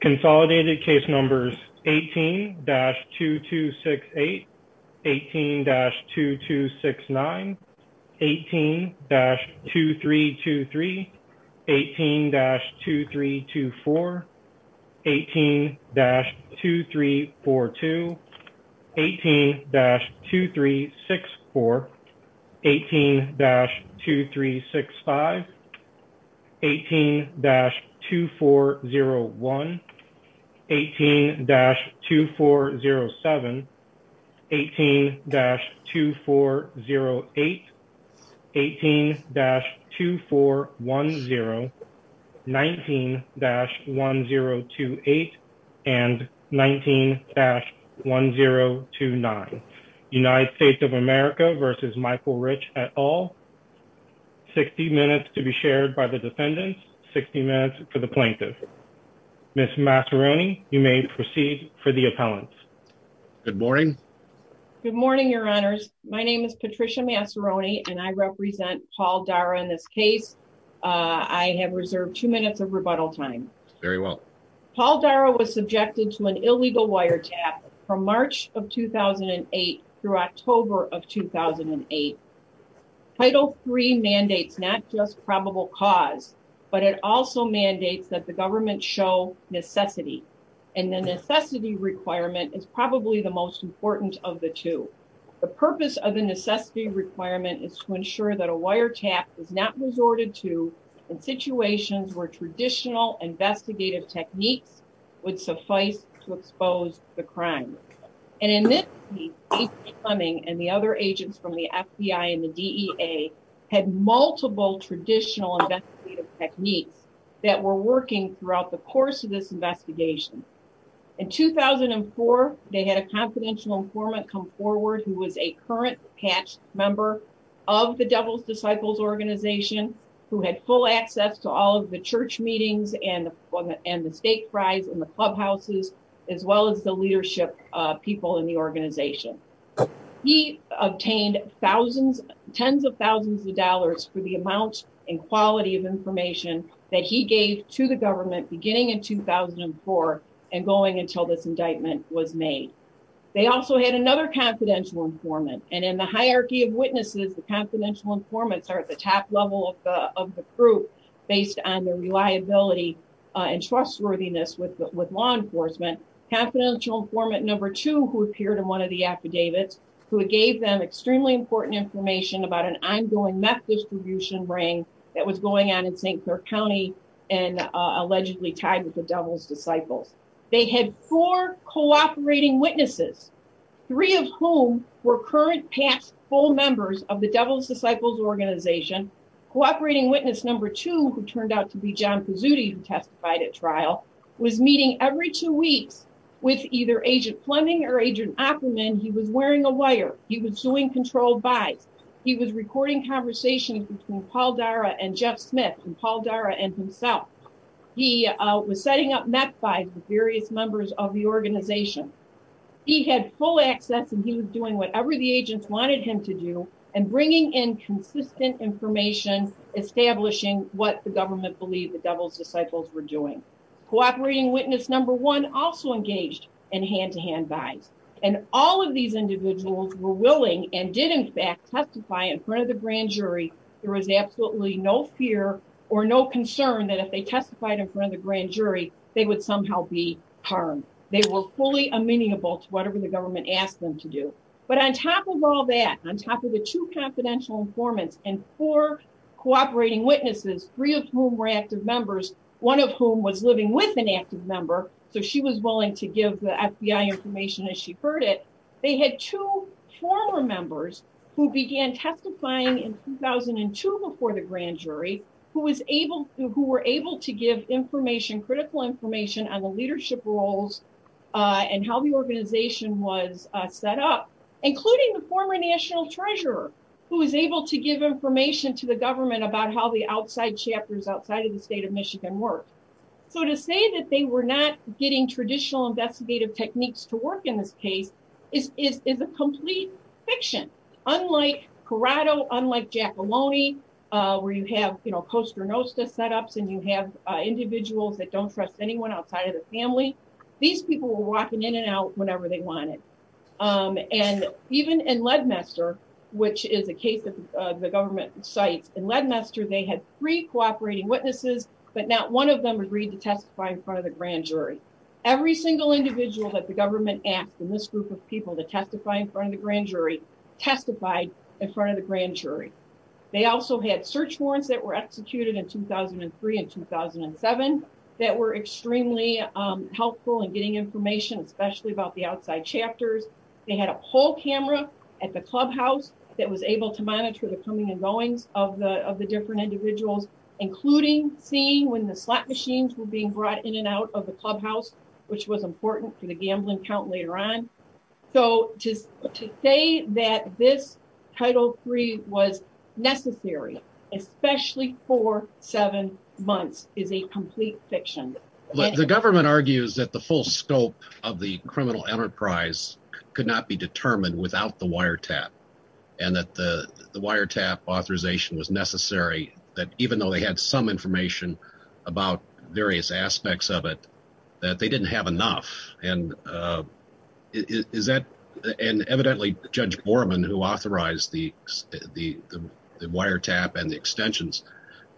Consolidated case numbers 18-2268, 18-2269, 18-2323, 18-2324, 18-2342, 18-2364, 18-2365, 18-2401, 18-2407, 18-2408, 18-2410, 19-1028, and 19-1029. United States of America v. Michael Rich et al. 60 minutes to be shared by the defendants, 60 minutes for the plaintiffs. Ms. Masseroni, you may proceed for the appellants. Good morning. Good morning, your honors. My name is Patricia Masseroni and I represent Paul Dara in this case. I have reserved two minutes of rebuttal time. Very well. Paul Dara was subjected to an illegal wiretap from March of 2008 through October of 2008. Title III mandates not just probable cause, but it also mandates that the government show necessity and the necessity requirement is probably the most important of the two. The purpose of the necessity requirement is to ensure that a wiretap is not resorted to in situations where traditional investigative techniques would suffice to expose the crime. And in this case, A.C. Fleming and the other agents from the FBI and the DEA had multiple traditional investigative techniques that were working throughout the course of this investigation. In 2004, they had a confidential informant come forward who was a current past member of the Devil's Disciples organization who had full access to all of the church meetings and the state tribes and the clubhouses as well as the leadership people in the organization. He obtained thousands, tens of thousands of dollars for the amount and quality of information that he gave to the government beginning in 2004 and going until this indictment was made. They also had another confidential informant. And in the hierarchy of witnesses, the confidential informants are at the top level of the group based on their reliability and trustworthiness with law enforcement. Confidential informant number two who appeared in one of the affidavits who gave them extremely important information about an ongoing meth distribution ring that was going on in St. Clark County and allegedly tied with the Devil's Disciples. They had four cooperating witnesses, three of whom were current past full members of the Devil's Disciples organization. Cooperating witness number two, who turned out to be John Pizzuti who testified at trial, was meeting every two weeks with either Agent Fleming or Agent Ackerman. He was wearing a wire. He was suing controlled by. He was recording conversations between Paul Dara and Jeff He had full access and he was doing whatever the agents wanted him to do and bringing in consistent information, establishing what the government believed the Devil's Disciples were doing. Cooperating witness number one also engaged in hand-to-hand buying. And all of these individuals were willing and did in fact testify in front of the grand jury. There was absolutely no fear or no concern that if they testified in front of the grand jury, they would somehow be harmed. They were fully amenable to whatever the government asked them to do. But on top of all that, on top of the two confidential informants and four cooperating witnesses, three of whom were active members, one of whom was living with an active member, so she was willing to give the FBI information as she heard it, they had two former members who on the leadership roles and how the organization was set up, including the former national treasurer who was able to give information to the government about how the outside chapters outside of the state of Michigan worked. So to say that they were not getting traditional investigative techniques to work in this case is a complete fiction. Unlike Corrado, unlike Giacalone, where you have, you know, Costa Rossa setups and you have individuals that don't trust anyone outside of the family, these people were walking in and out whenever they wanted. And even in Ledmester, which is the case of the government site in Ledmester, they had three cooperating witnesses, but not one of them agreed to testify in front of the grand jury. Every single individual that the government asked in this group of people to testify in front of the grand jury testified in front of the grand jury. They also had search warrants that were executed in 2003 and 2007 that were extremely helpful in getting information, especially about the outside chapters. They had a poll camera at the clubhouse that was able to monitor the coming and going of the different individuals, including seeing when the slot machines were being brought in and out of clubhouse, which was important for the gambling count later on. So to say that this Title III was necessary, especially for seven months, is a complete fiction. The government argues that the full scope of the criminal enterprise could not be determined without the wiretap, and that the wiretap authorization was necessary, that even though they had some information about various aspects of it, that they didn't have enough. And evidently, Judge Borman, who authorized the wiretap and the extensions,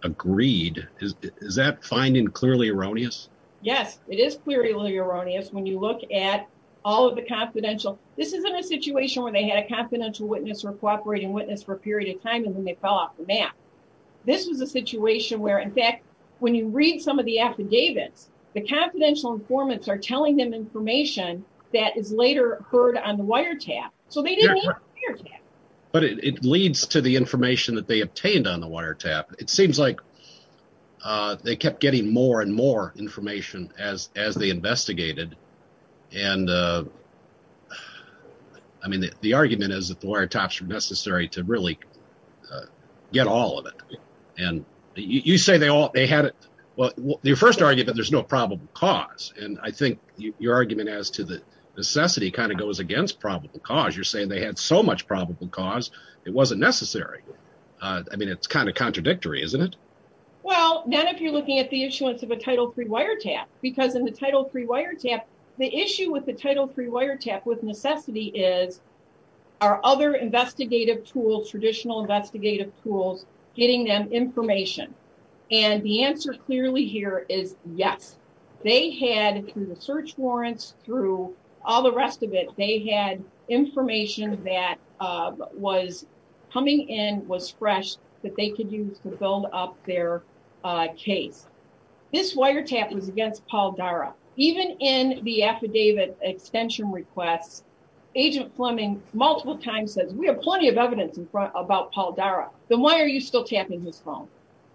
agreed. Is that finding clearly erroneous? Yes, it is clearly erroneous when you look at all of the confidential. This isn't a situation where they had a confidential witness or cooperating witness for a period of time and then they fell off the map. This is a situation where, in fact, when you read some of the affidavits, the confidential informants are telling them information that is later heard on the wiretap, so they didn't have the wiretap. But it leads to the information that they obtained on the wiretap. It seems like they kept getting more and more information as they investigated, and I mean, the argument is that the wiretaps were necessary to really get all of it. And you say they all, they had it, well, your first argument, there's no probable cause, and I think your argument as to the necessity kind of goes against probable cause. You're saying they had so much probable cause, it wasn't necessary. I mean, it's kind of contradictory, isn't it? Well, not if you're looking at the issuance of a Title III wiretap, because in the Title III wiretap, the issue with the Title III wiretap with necessity is are other investigative tools, traditional investigative tools, getting them information? And the answer clearly here is yes. They had, through the search warrants, through all the rest of it, they had information that was coming in, was fresh, that they could use to build up their case. This wiretap was against Paul Darra. Even in the affidavit extension request, Agent Fleming multiple times said, we have plenty of evidence in front about Paul Darra, then why are you still tapping his phone?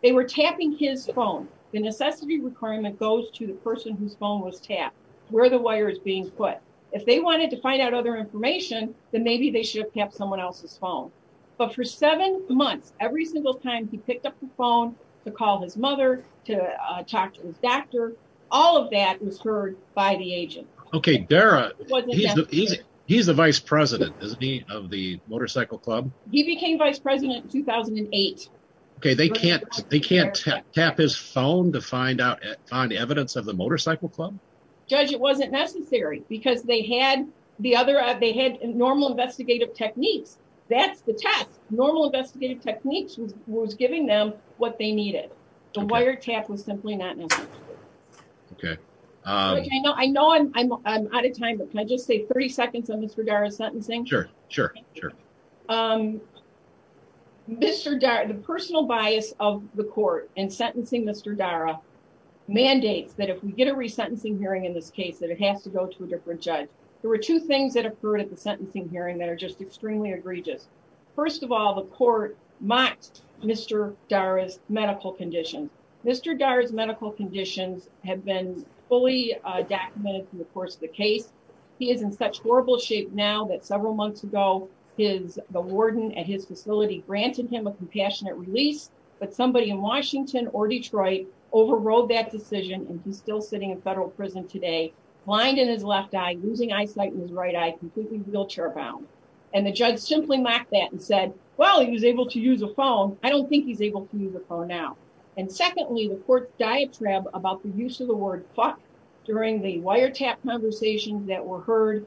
They were tapping his phone. The necessity requirement goes to the person whose phone was tapped, where the wire is being put. If they wanted to find out other information, then maybe they should have tapped someone else's phone. But for seven months, every single time he picked up the phone to call his mother, to talk to his doctor, all of that was heard by the agent. Okay, Darra, he's the vice president, isn't he, of the Motorcycle Club? He became vice president in 2008. Okay, they can't tap his phone to find evidence of the Motorcycle Club? Judge, it wasn't necessary, because they had normal techniques. That's the tap. Normal investigative techniques was giving them what they needed. The wiretap was simply not necessary. Okay. I know I'm out of time, but can I just say 30 seconds on Mr. Darra's sentencing? Sure, sure, sure. The personal bias of the court in sentencing Mr. Darra mandates that if we get a resentencing hearing in this case, that it has to go to a just extremely egregious. First of all, the court mocked Mr. Darra's medical condition. Mr. Darra's medical conditions have been fully documented through the course of the case. He is in such horrible shape now that several months ago, the warden at his facility granted him a compassionate relief, but somebody in Washington or Detroit overrode that decision, and he's still sitting in federal prison today, blind in his left eye, losing eyesight in his wheelchair bound. And the judge simply mocked that and said, well, he's able to use a phone. I don't think he's able to use a phone now. And secondly, the court's diatribe about the use of the word fuck during the wiretap conversations that were heard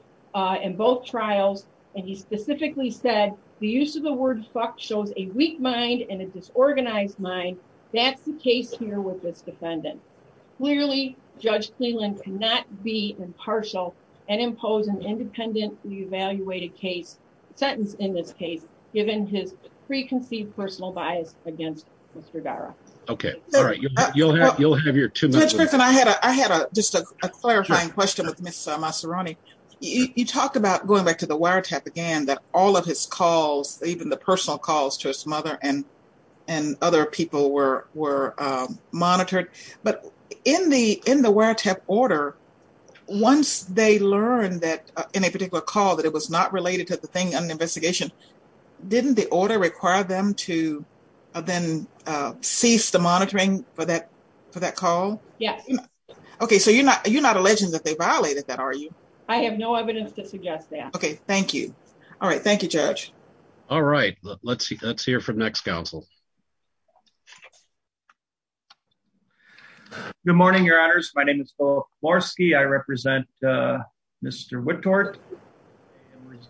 in both trials, and he specifically said the use of the word fuck shows a weak mind and a disorganized mind. That's the case here with this defendant. Clearly, Judge Cleland cannot be impartial and impose an independently evaluated case, sentence in this case, given his preconceived personal bias against Mr. Darra. Okay. All right. You'll have your two minutes. I had just a clarifying question with Mr. Masseroni. You talked about going back to the wiretap again, that all of his calls, even the personal calls to his mother and other people were monitored. But in the wiretap order, once they learned that in a particular call that it was not related to the thing on the investigation, didn't the order require them to then cease the monitoring for that call? Yeah. Okay. So you're not alleging that they violated that, are you? I have no evidence to suggest that. Okay. Thank you. All right. Thank you, Judge. All right. Let's see. Let's hear from next council. Good morning, your honors. My name is Paul Lorsky. I represent, uh, Mr. Whitworth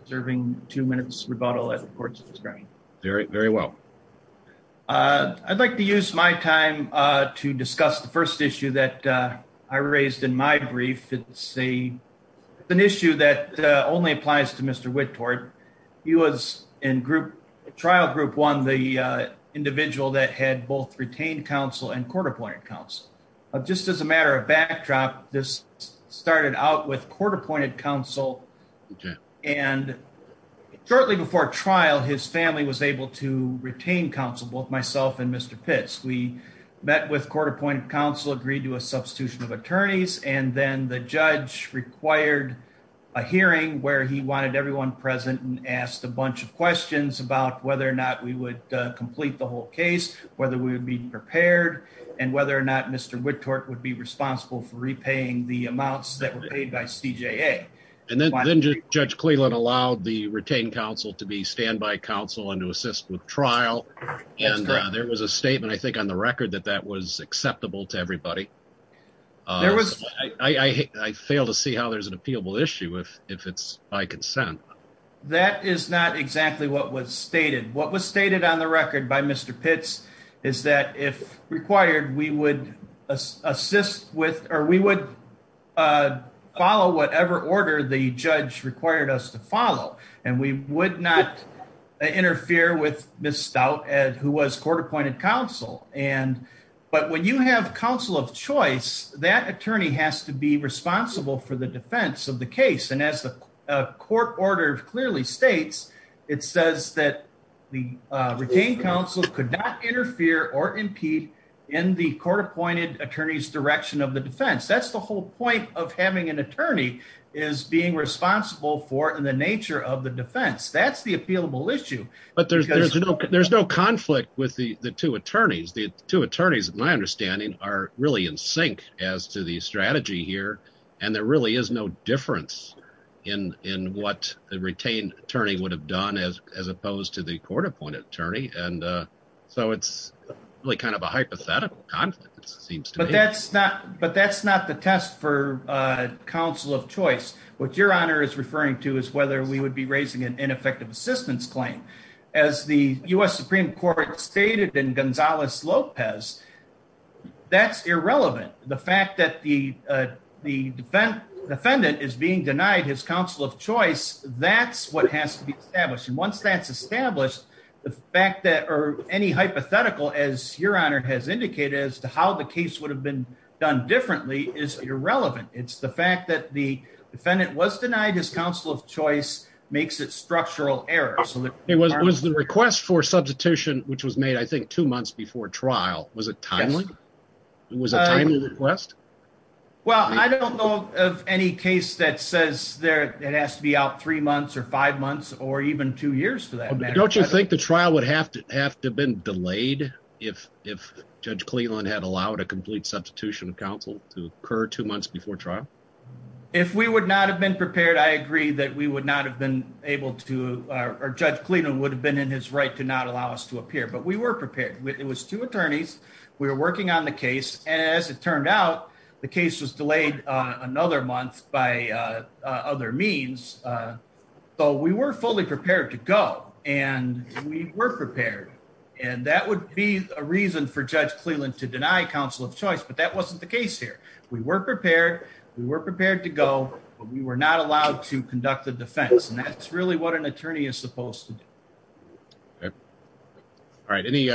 serving two minutes rebuttal at the court's discretion. Very, very well. Uh, I'd like to use my time, uh, to discuss the first issue that, uh, I raised in my brief. It's an issue that, uh, only applies to Mr. Whitworth. He was in trial group one, the, uh, individual that had both retained counsel and court appointed counsel. Just as a matter of backdrop, this started out with court appointed counsel. And shortly before trial, his family was able to retain counsel, both myself and Mr. Fitts. We met with court appointed counsel, agreed to a substitution of attorneys. And then the judge required a hearing where he wanted everyone present and asked a bunch of questions about whether or not we would complete the whole case, whether we would be prepared and whether or not Mr. Whitworth would be responsible for repaying the amounts that were paid by CJA. And then Judge Cleveland allowed the retained counsel to be standby counsel and to assist with trial. And there was a statement, I think on the study. I fail to see how there's an appealable issue if it's by consent. That is not exactly what was stated. What was stated on the record by Mr. Pitts is that if required, we would assist with, or we would, uh, follow whatever order the judge required us to follow. And we would not interfere with Ms. Stout, who was court appointed counsel. And, but when you have counsel of choice, that attorney has to be responsible for the defense of the case. And as the court order clearly states, it says that the retained counsel could not interfere or impede in the court appointed attorney's direction of the defense. That's the whole point of having an attorney is being responsible for the nature of the defense. That's the appealable issue. But there's, there's no, there's no conflict with the two attorneys. The two attorneys, my understanding are really in sync as to the strategy here. And there really is no difference in, in what the retained attorney would have done as, as opposed to the court appointed attorney. And, uh, so it's really kind of a hypothetical. But that's not, but that's not the test for, uh, counsel of choice. What your honor is referring to is whether we would be raising an ineffective assistance claim as the U S Supreme court stated in Gonzalez Lopez. That's irrelevant. The fact that the, uh, the defendant is being denied his counsel of choice. That's what has to be established. And once that's established the fact that, or any hypothetical, as your honor has indicated as to how the case would have been done differently is irrelevant. It's the fact that the defendant was denied his counsel of choice makes it structural error. So it was, it was the request for substitution, which was made, I think two months before trial. Was it timely? It was a timely request. Well, I don't know of any case that says that it has to be out three months or five months or even two years to that. Don't you think the trial would have to have to have been delayed? If, if judge Cleveland had allowed a month before trial, if we would not have been prepared, I agree that we would not have been able to, uh, or judge Cleveland would have been in his right to not allow us to appear, but we were prepared. It was two attorneys. We were working on the case. As it turned out, the case was delayed, uh, another month by, uh, uh, other means. Uh, so we weren't fully prepared to go and we were prepared. And that would be a reason for judge Cleveland to deny counsel of choice. But that wasn't the case here. We weren't prepared. We were prepared to go, but we were not allowed to conduct the defense. And that's really what an attorney is supposed to do. All right. Any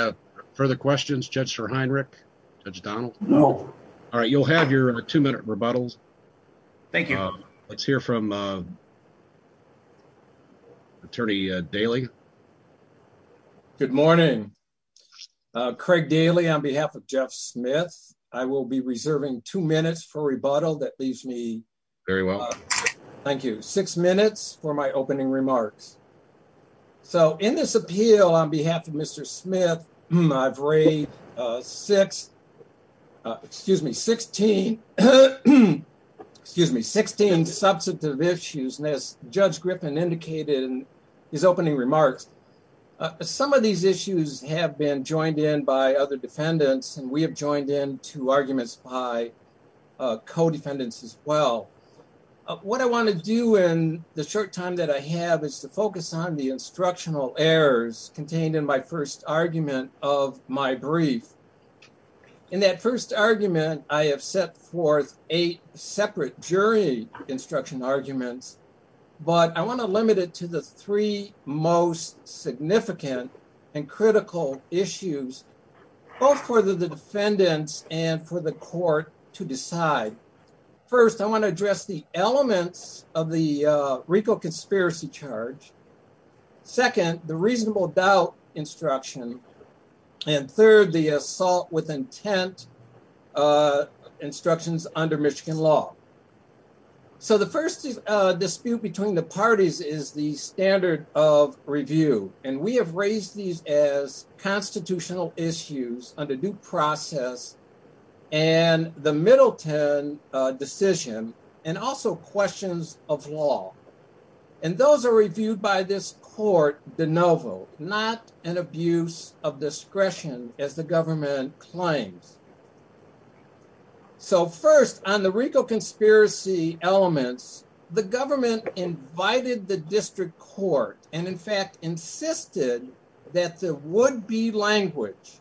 further questions? Judge Heinrich, judge Donald. No. All right. You'll have your two minute rebuttals. Thank you. Let's hear from, um, attorney, uh, daily. Good morning. Uh, Craig Daly on behalf of Jeff Smith. I will be reserving two minutes for rebuttal that leaves me very well. Thank you. Six minutes for my opening remarks. So in this appeal on behalf of Mr. Smith, I've raised a six, uh, excuse me, 16, excuse me, 16 substantive issues. And as judge Griffin indicated in his opening remarks, uh, some of these issues have been joined in by other defendants and we have joined in to arguments by, uh, co-defendants as well. Uh, what I want to do in the short time that I have is to focus on the instructional errors contained in my first argument of my brief. In that first argument, I have set forth eight separate jury instruction arguments, but I want to limit it to the three most significant and critical issues, both for the defendants and for the court to decide. First, I want to address the elements of the, uh, RICO charge. Second, the reasonable doubt instruction. And third, the assault with intent, uh, instructions under Michigan law. So the first, uh, dispute between the parties is the standard of review. And we have raised these as constitutional issues under due process and the Middleton, uh, decision and also questions of law. And those are reviewed by this court de novo, not an abuse of discretion as the government claims. So first on the RICO conspiracy elements, the government invited the district court and in fact insisted that there would be language.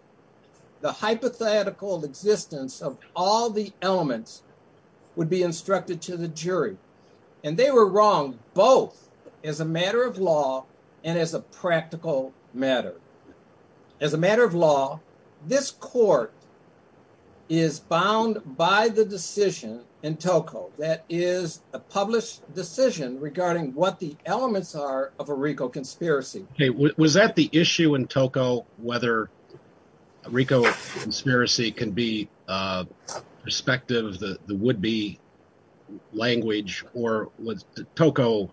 The hypothetical existence of all the elements would be instructed to the jury and they were wrong, both as a matter of law and as a practical matter. As a matter of law, this court is bound by the decision in TOCO, that is a published decision regarding what the elements are of a RICO conspiracy. Was that the issue in TOCO, whether RICO conspiracy can be, uh, perspective, the, the would be language or was TOCO,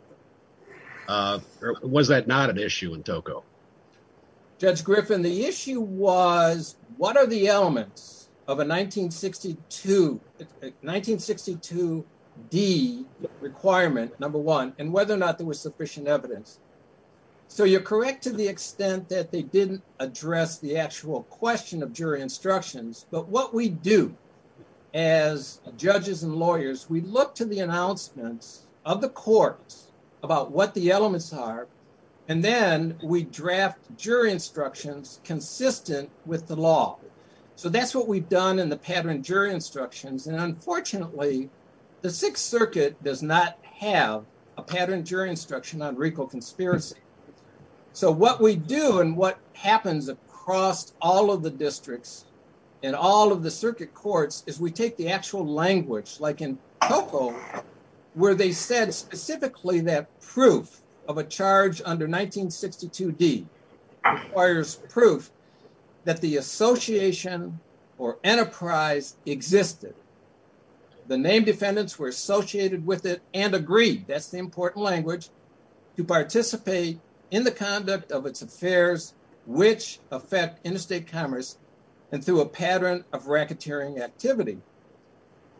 uh, or was that not an issue in TOCO? Judge Griffin, the issue was what are the elements of a 1962, 1962 D requirement, number one, and whether or not there was sufficient evidence. So you're correct to the extent that they didn't address the actual question of jury instructions, but what we do as judges and lawyers, we look to the announcements of the courts about what the elements are, and then we draft jury instructions consistent with the law. So that's what we've done in the pattern jury instructions. And unfortunately, the Sixth Circuit does not have a pattern jury instruction on RICO conspiracy. So what we do and what happens across all of the districts and all of the circuit courts is we take the actual language like in TOCO, where they said specifically that proof of a charge under 1962 D requires proof that the association or enterprise existed. The name defendants were associated with it and agreed, that's the important language, to participate in the conduct of its affairs, which affect interstate commerce and through a pattern of racketeering activity.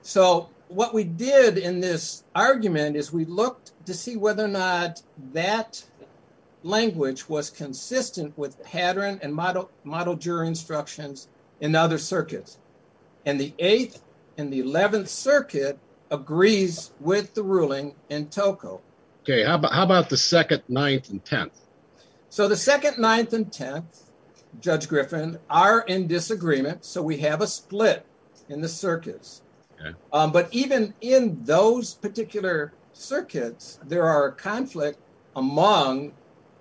So what we did in this argument is we looked to see whether or not that language was consistent with the pattern and model jury instructions in other circuits. And the Eighth and the Eleventh Circuit agrees with the ruling in TOCO. Okay, how about the Second, Ninth, and Tenth? So the Second, Ninth, and Tenth, Judge Griffin, are in disagreement, so we have a in the circuits. But even in those particular circuits, there are conflicts among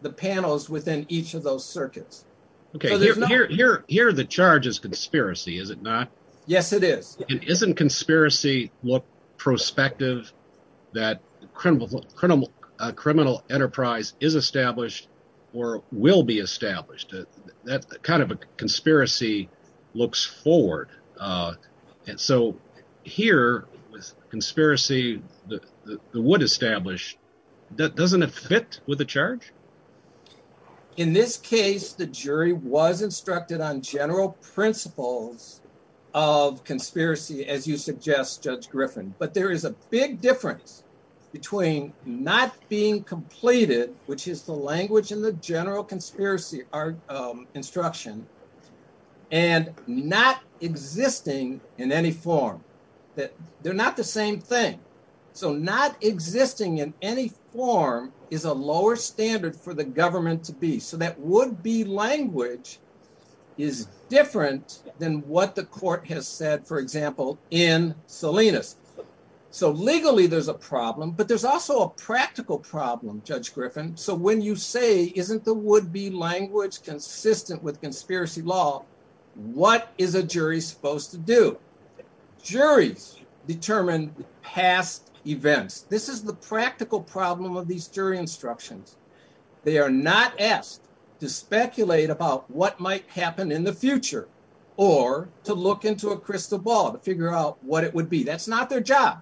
the panels within each of those circuits. Okay, here the charge is conspiracy, is it not? Yes, it is. Doesn't conspiracy look prospective that a criminal enterprise is established or will be established? That kind of a conspiracy looks forward. And so here, conspiracy that would establish, doesn't it fit with the charge? In this case, the jury was instructed on general principles of conspiracy, as you suggest, Judge Griffin. But there is a big difference between not being completed, which is the language in the general conspiracy instruction, and not existing in any form. They're not the same thing. So not existing in any form is a lower standard for the government to be. So that would-be language is different than what the court has said, for example, in Salinas. So legally there's a problem, but there's also a practical problem, Judge Griffin. So when you say, isn't the would-be language consistent with conspiracy law, what is a jury supposed to do? Juries determine past events. This is the practical problem of these jury instructions. They are not asked to speculate about what might happen in the future or to look into a crystal ball to figure out what it would be. That's not their job.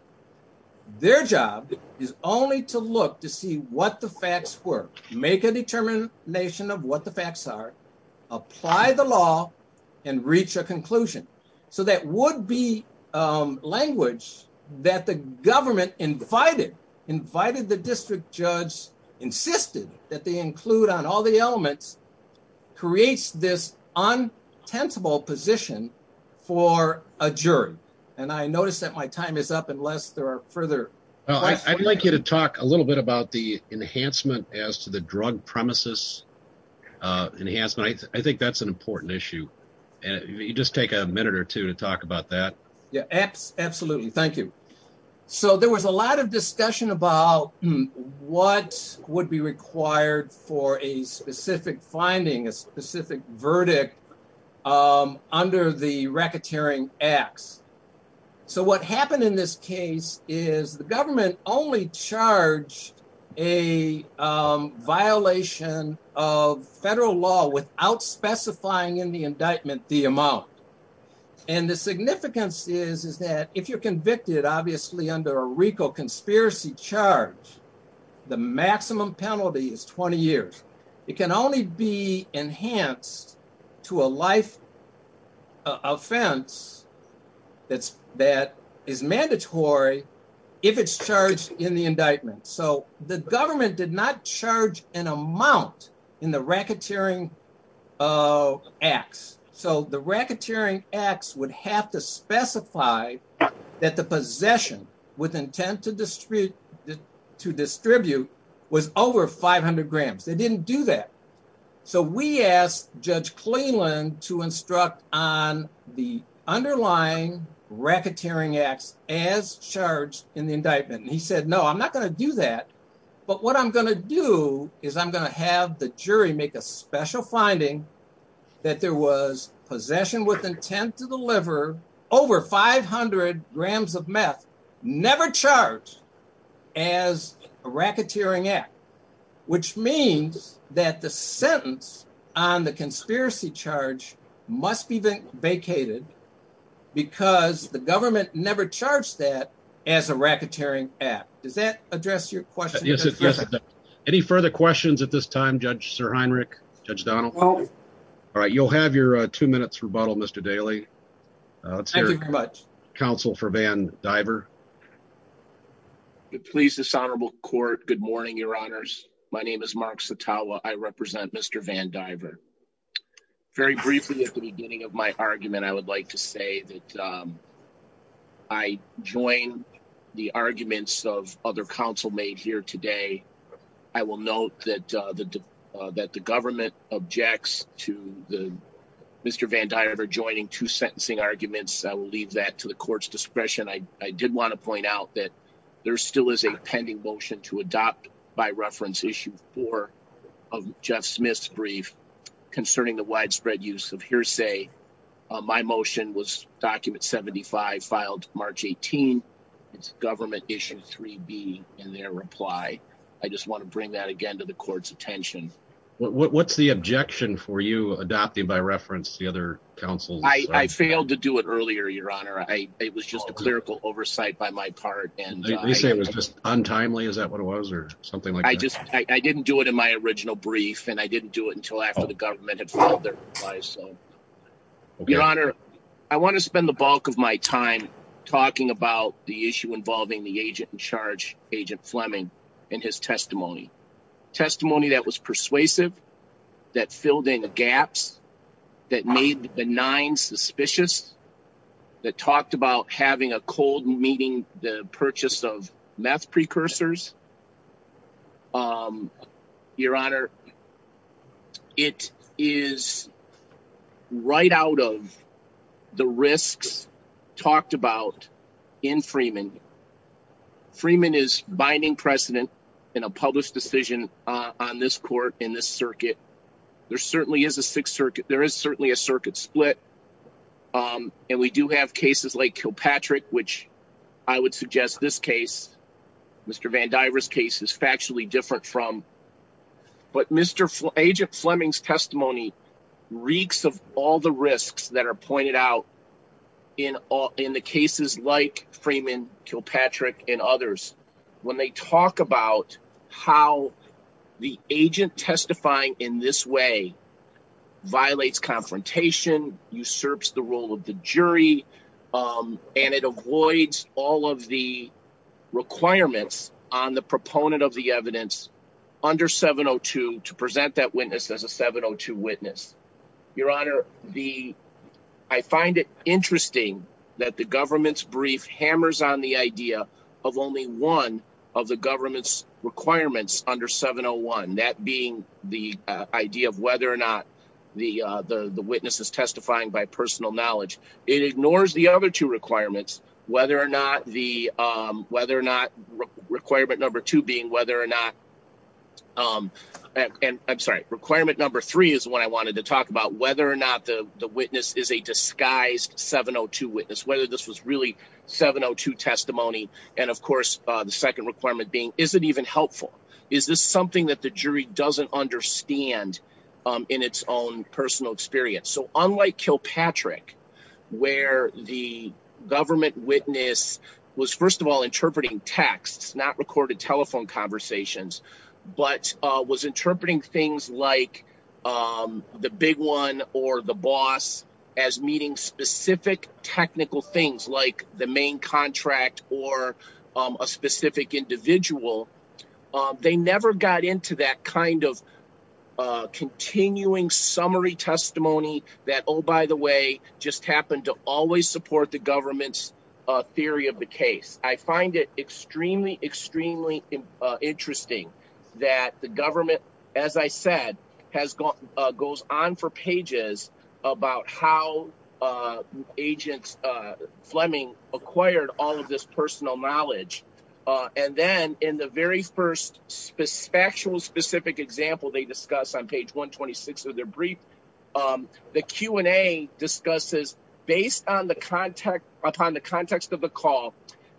Their job is only to look to see what the facts were, make a determination of what the facts are, apply the law, and reach a conclusion. So that would-be language that the government invited, invited the district judge, insisted that they include on all the elements, creates this intensible position for a jury. And I notice that my time is up unless there are further questions. I'd like you to talk a little bit about the enhancement as to the drug premises. I think that's an important issue. You just take a minute or two to talk about that. Yeah, absolutely. Thank you. So there was a lot of discussion about what would be required for a specific finding, a specific verdict under the racketeering acts. So what happened in this case is the government only charged a violation of federal law without specifying in the indictment the amount. And the significance is that if you're convicted, obviously under a RICO conspiracy charge, the maximum penalty is 20 years. It can only be enhanced to a life offense that is mandatory if it's charged in the indictment. So the government did not charge an of acts. So the racketeering acts would have to specify that the possession with intent to distribute was over 500 grams. They didn't do that. So we asked Judge Cleland to instruct on the underlying racketeering acts as charged in the indictment. He said, no, I'm not going to do that. But what I'm going to do is I'm going to have the jury make a special finding that there was possession with intent to deliver over 500 grams of meth never charged as a racketeering act, which means that the sentence on the conspiracy charge must be vacated because the government never charged that as a racketeering act. Does that address your question? Any further questions at this time, Judge Sir Heinrich, Judge Donald? All right. You'll have your two minutes rebuttal, Mr. Daly. Thank you very much. Counsel for Van Diver. Please, this honorable court, good morning, your honors. My name is Mark Satawa. I represent Mr. Van Diver. I joined the arguments of other counsel made here today. I will note that the government objects to Mr. Van Diver joining two sentencing arguments. I will leave that to the court's discretion. I did want to point out that there still is a pending motion to adopt by reference issue four of Jeff Smith's brief concerning the widespread use of hearsay. My motion was document 75 filed March 18th. It's government issue 3B in their reply. I just want to bring that again to the court's attention. What's the objection for you adopting by reference to the other counsel? I failed to do it earlier, your honor. It was just a clerical oversight by my part. You say it was just untimely? Is that what it was or something like that? I didn't do it in my original brief and I didn't do it until after the government had filed their replies. Your honor, I want to spend the bulk of my time talking about the issue involving the agent in charge, Agent Fleming, in his testimony. Testimony that was persuasive, that filled in the gaps, that made the nine suspicious, that talked about having a cold meeting the purchase of meth precursors. Your honor, it is right out of the risks talked about in Freeman. Freeman is binding precedent in a published decision on this court in this circuit. There certainly is a circuit split and we do have cases like Kilpatrick, which I would suggest this case, Mr. Van Dyver's case, is factually different from. But Agent Fleming's testimony reeks of all the risks that are pointed out in the cases like Freeman, Kilpatrick, and others. When they talk about how the agent testifying in this way violates confrontation, usurps the role of the jury, and it avoids all of the requirements on the proponent of the evidence under 702 to present that witness as a 702 witness. Your honor, I find it interesting that the government's brief hammers on the idea of only one of the government's requirements under 701, that being the idea of whether or not the witness is testifying by personal knowledge. It ignores the other two requirements, whether or not the, whether or not requirement number two being whether or not, I'm sorry, requirement number three is what I wanted to talk about, whether or not the witness is a disguised 702 witness, whether this was really 702 testimony. And of course, the second requirement being, is it even helpful? Is this something that the jury doesn't understand in its own personal experience? So unlike Kilpatrick, where the government witness was, first of all, interpreting texts, not recorded telephone conversations, but was or the boss as meeting specific technical things like the main contract or a specific individual, they never got into that kind of continuing summary testimony that, oh, by the way, just happened to always support the government's theory of the case. I find it extremely, extremely interesting that the government, as I said, has gone, goes on for pages about how agents Fleming acquired all of this personal knowledge. And then in the very first factual specific example, they discuss on page 126 of their brief, the Q and A discusses based upon the context of the call,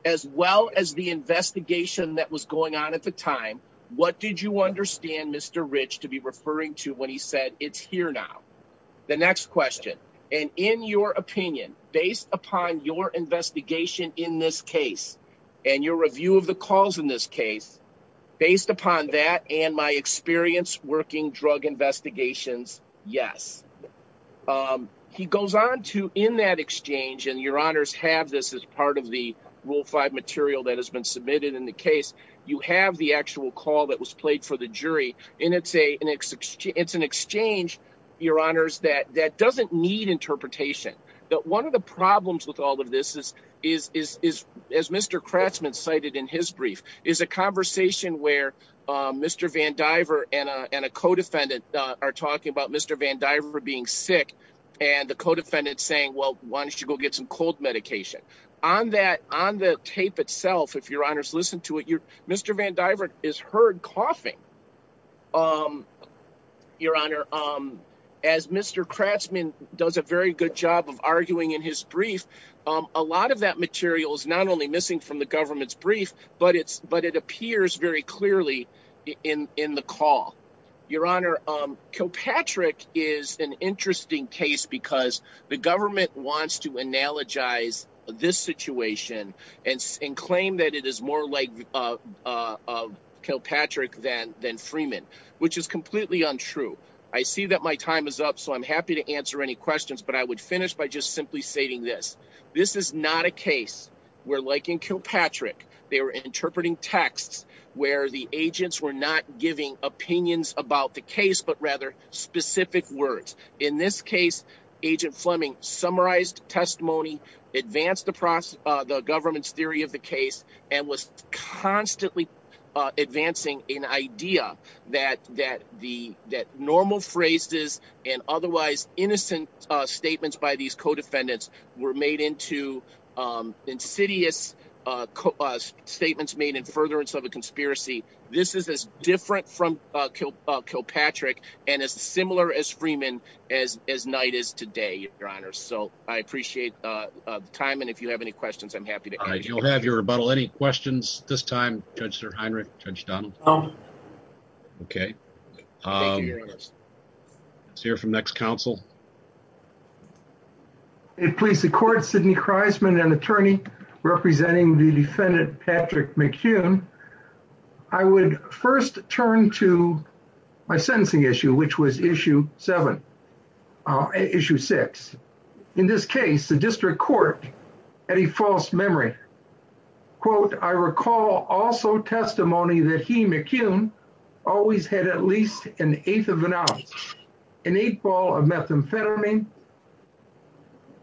as well as the investigation that was going on at the time, what did you understand Mr. Rich to be referring to when he said it's here now? The next question, and in your opinion, based upon your investigation in this case, and your review of the calls in this case, based upon that and my experience working drug investigations, yes. He goes on to in that exchange and your honors have this as part of the rule five material that has been submitted in the case, you have the actual call that was played for the jury. And it's an exchange, your honors, that doesn't need interpretation. But one of the problems with all of this is, as Mr. Craftsman cited in his brief, is a conversation where Mr. Van Diver and a co-defendant are talking about Mr. Van Diver being sick. And the co-defendant saying, well, why don't you go get some cold medication on that on the tape itself. If your honors listen to it, Mr. Van Diver is heard coughing. Your honor, as Mr. Craftsman does a very good job of arguing in his brief, a lot of that material is not only missing from the government's brief, but it appears very clearly in the call. Your honor, Kilpatrick is an interesting case because the government wants to analogize this situation and claim that it is more like Kilpatrick than Freeman, which is completely untrue. I see that my time is up, so I'm happy to answer any questions, but I would finish by just simply stating this. This is not a case where, like in Kilpatrick, they were interpreting text where the agents were not giving opinions about the case, but rather specific words. In this case, Agent Fleming summarized testimony, advanced the government's theory of the case, and was constantly advancing an idea that normal phrases and otherwise innocent statements by these co-defendants were made into insidious statements made in furtherance of a conspiracy. This is as different from Kilpatrick and as similar as Freeman as Knight is today, your honors, so I appreciate time, and if you have any questions, I'm happy to answer. You'll have your rebuttal. Any questions at this time, Judge Heinrich, Judge Dunn? Okay, let's hear from the next counsel. It pleases the court, Sidney Kreisman, an attorney representing the defendant Patrick McHugh. I would first turn to my sentencing issue, which was issue seven, issue six. In this case, the district court had a false memory. Quote, I recall also testimony that he, McHugh, always had at least an eighth of an ounce, an eighth ball of methamphetamine.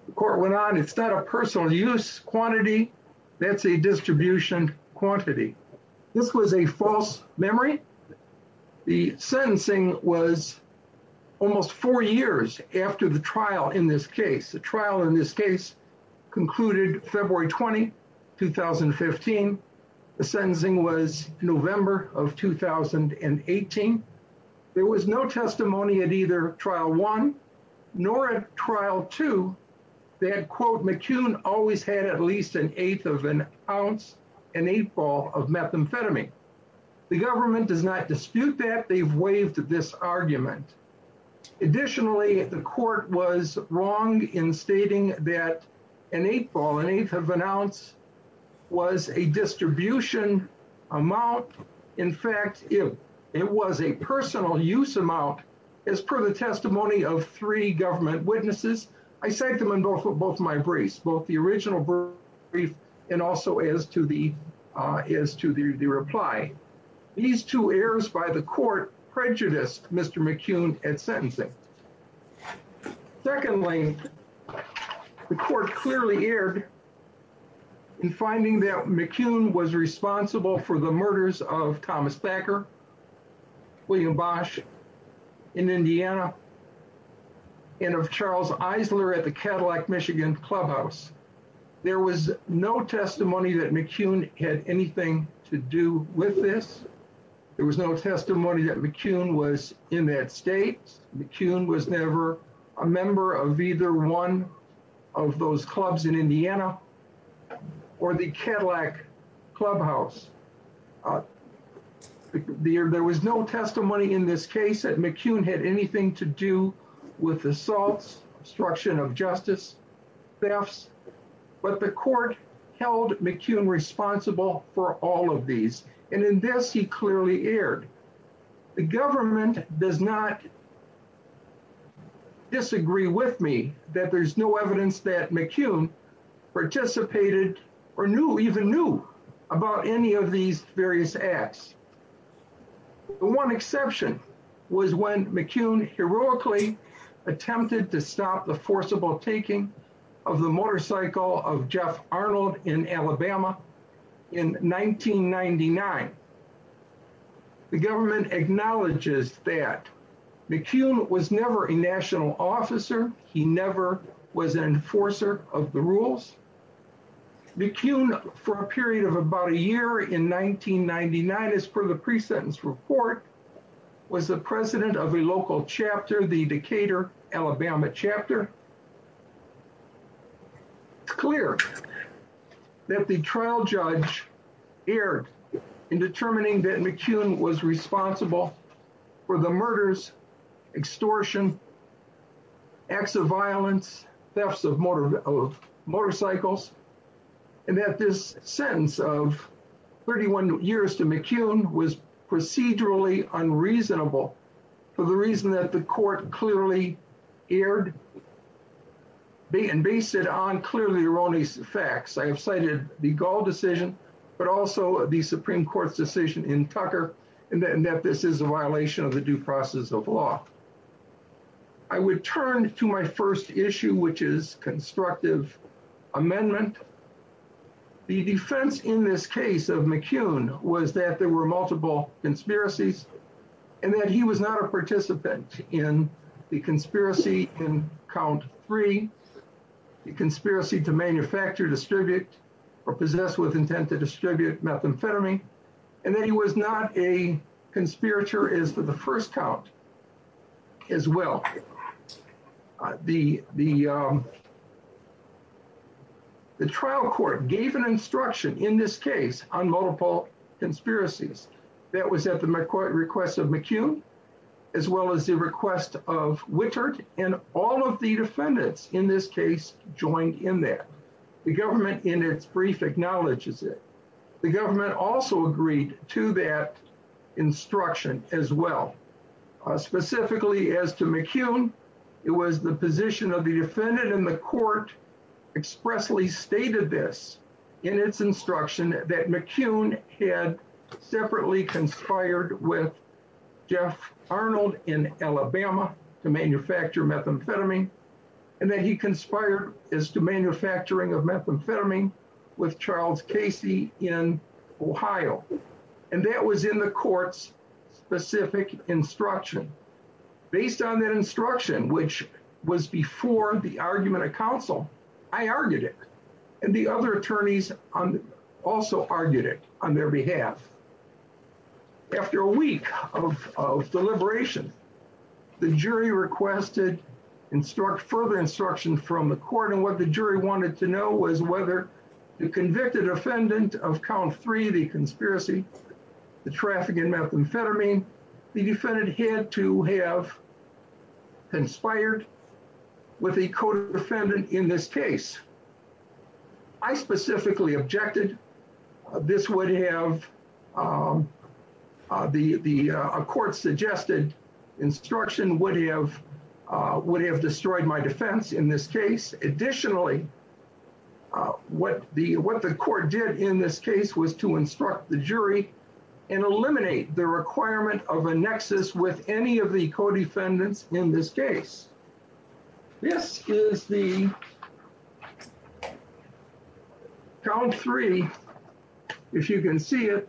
The court went on, it's not a personal use quantity, that's a distribution quantity. This was a false memory. The sentencing was almost four years after the trial in this case. The trial in this case concluded February 20, 2015. The sentencing was November of 2018. There was no testimony at either trial one nor at trial two that, quote, McHugh always had at least an eighth of an ounce, an eighth ball of methamphetamine. The government does not dispute that. They've wronged in stating that an eighth ball, an eighth of an ounce was a distribution amount. In fact, it was a personal use amount. As per the testimony of three government witnesses, I cite them in both of my briefs, both the original brief and also as to the reply. These two errors by the court prejudiced Mr. McHugh at sentencing. Secondly, the court clearly erred in finding that McHugh was responsible for the murders of Thomas Thacker, William Bosch in Indiana, and of Charles Eisler at the Cadillac Michigan Clubhouse. There was no testimony that this. There was no testimony that McHugh was in that state. McHugh was never a member of either one of those clubs in Indiana or the Cadillac Clubhouse. There was no testimony in this case that McHugh had anything to do with assaults, obstruction of justice, thefts. But the court held McHugh responsible for all of these. And in this, he clearly erred. The government does not disagree with me that there's no evidence that McHugh participated or knew, even knew, about any of these various acts. The one exception was when McHugh heroically attempted to stop the forcible taking of the motorcycle of Jeff Arnold in Alabama in 1999. The government acknowledges that McHugh was never a national officer. He never was an enforcer of the rules. McHugh, for a period of about a year in 1999, as per the Alabama chapter, cleared that the trial judge erred in determining that McHugh was responsible for the murders, extortion, acts of violence, thefts of motorcycles, and that this sentence of 31 years to McHugh was procedurally unreasonable for the reason that the court clearly erred and based it on clearly erroneous facts. I have cited the Gall decision, but also the Supreme Court's decision in Tucker, and that this is a violation of the due process of law. I would turn to my first issue, which is constructive amendment. The defense in this case of McHugh was that there were multiple conspiracies and that he was not a participant in the conspiracy in count three, the conspiracy to manufacture, distribute, or possess with intent to distribute methamphetamine, and that he was not a conspirator as to the first count as well. The trial court gave an instruction in this case on multiple conspiracies. That was at the court request of McHugh, as well as the request of Wichert, and all of the defendants in this case joined in there. The government in its brief acknowledges it. The government also agreed to that as well. Specifically as to McHugh, it was the position of the defendant in the court expressly stated this in its instruction that McHugh had separately conspired with Jeff Arnold in Alabama to manufacture methamphetamine, and that he conspired as to this specific instruction. Based on that instruction, which was before the argument of counsel, I argued it, and the other attorneys also argued it on their behalf. After a week of deliberation, the jury requested further instruction from the court, and what the jury wanted to know was whether the convicted defendant of count three, the conspiracy to traffic in methamphetamine, the defendant had to have conspired with a co-defendant in this case. I specifically objected. This would have, the court suggested instruction would have destroyed my defense in this case. Additionally, what the court did in this case was to instruct the jury and eliminate the requirement of a nexus with any of the co-defendants in this case. This is the count three, if you can see it.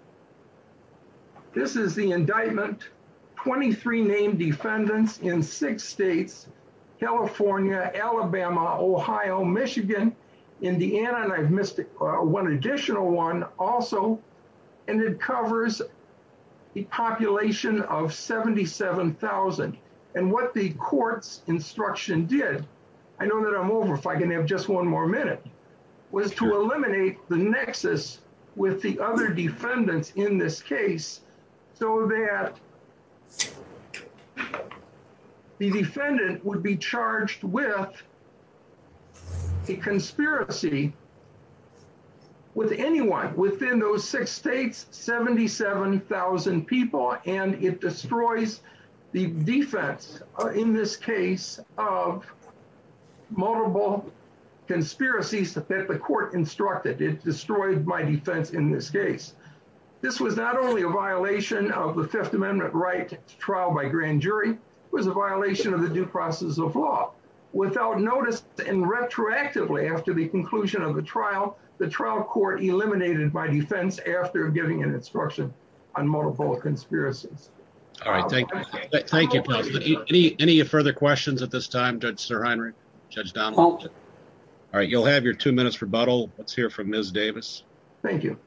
This is the indictment, 23 named defendants in six states, California, Alabama, Ohio, Michigan, Indiana, and I've missed one additional one also, and it covers the population of 77,000, and what the court's instruction did, I know that I'm over if I can have just one more minute, was to eliminate the nexus with the other defendants in this case so that the defendant would be charged with a conspiracy with anyone within those six states, 77,000 people, and it destroys the defense in this case of multiple conspiracies that the court instructed. It destroyed my defense in this case. This was not only a violation of the Fifth Amendment right trial by grand jury, it was a violation of the due process of law. Without notice and retroactively after the conclusion of the trial, the trial court eliminated my defense after giving an instruction on multiple conspiracies. All right, thank you. Any further questions at this time? All right, you'll have your two minutes for rebuttal. Let's hear from Ms. Davis. Thank you.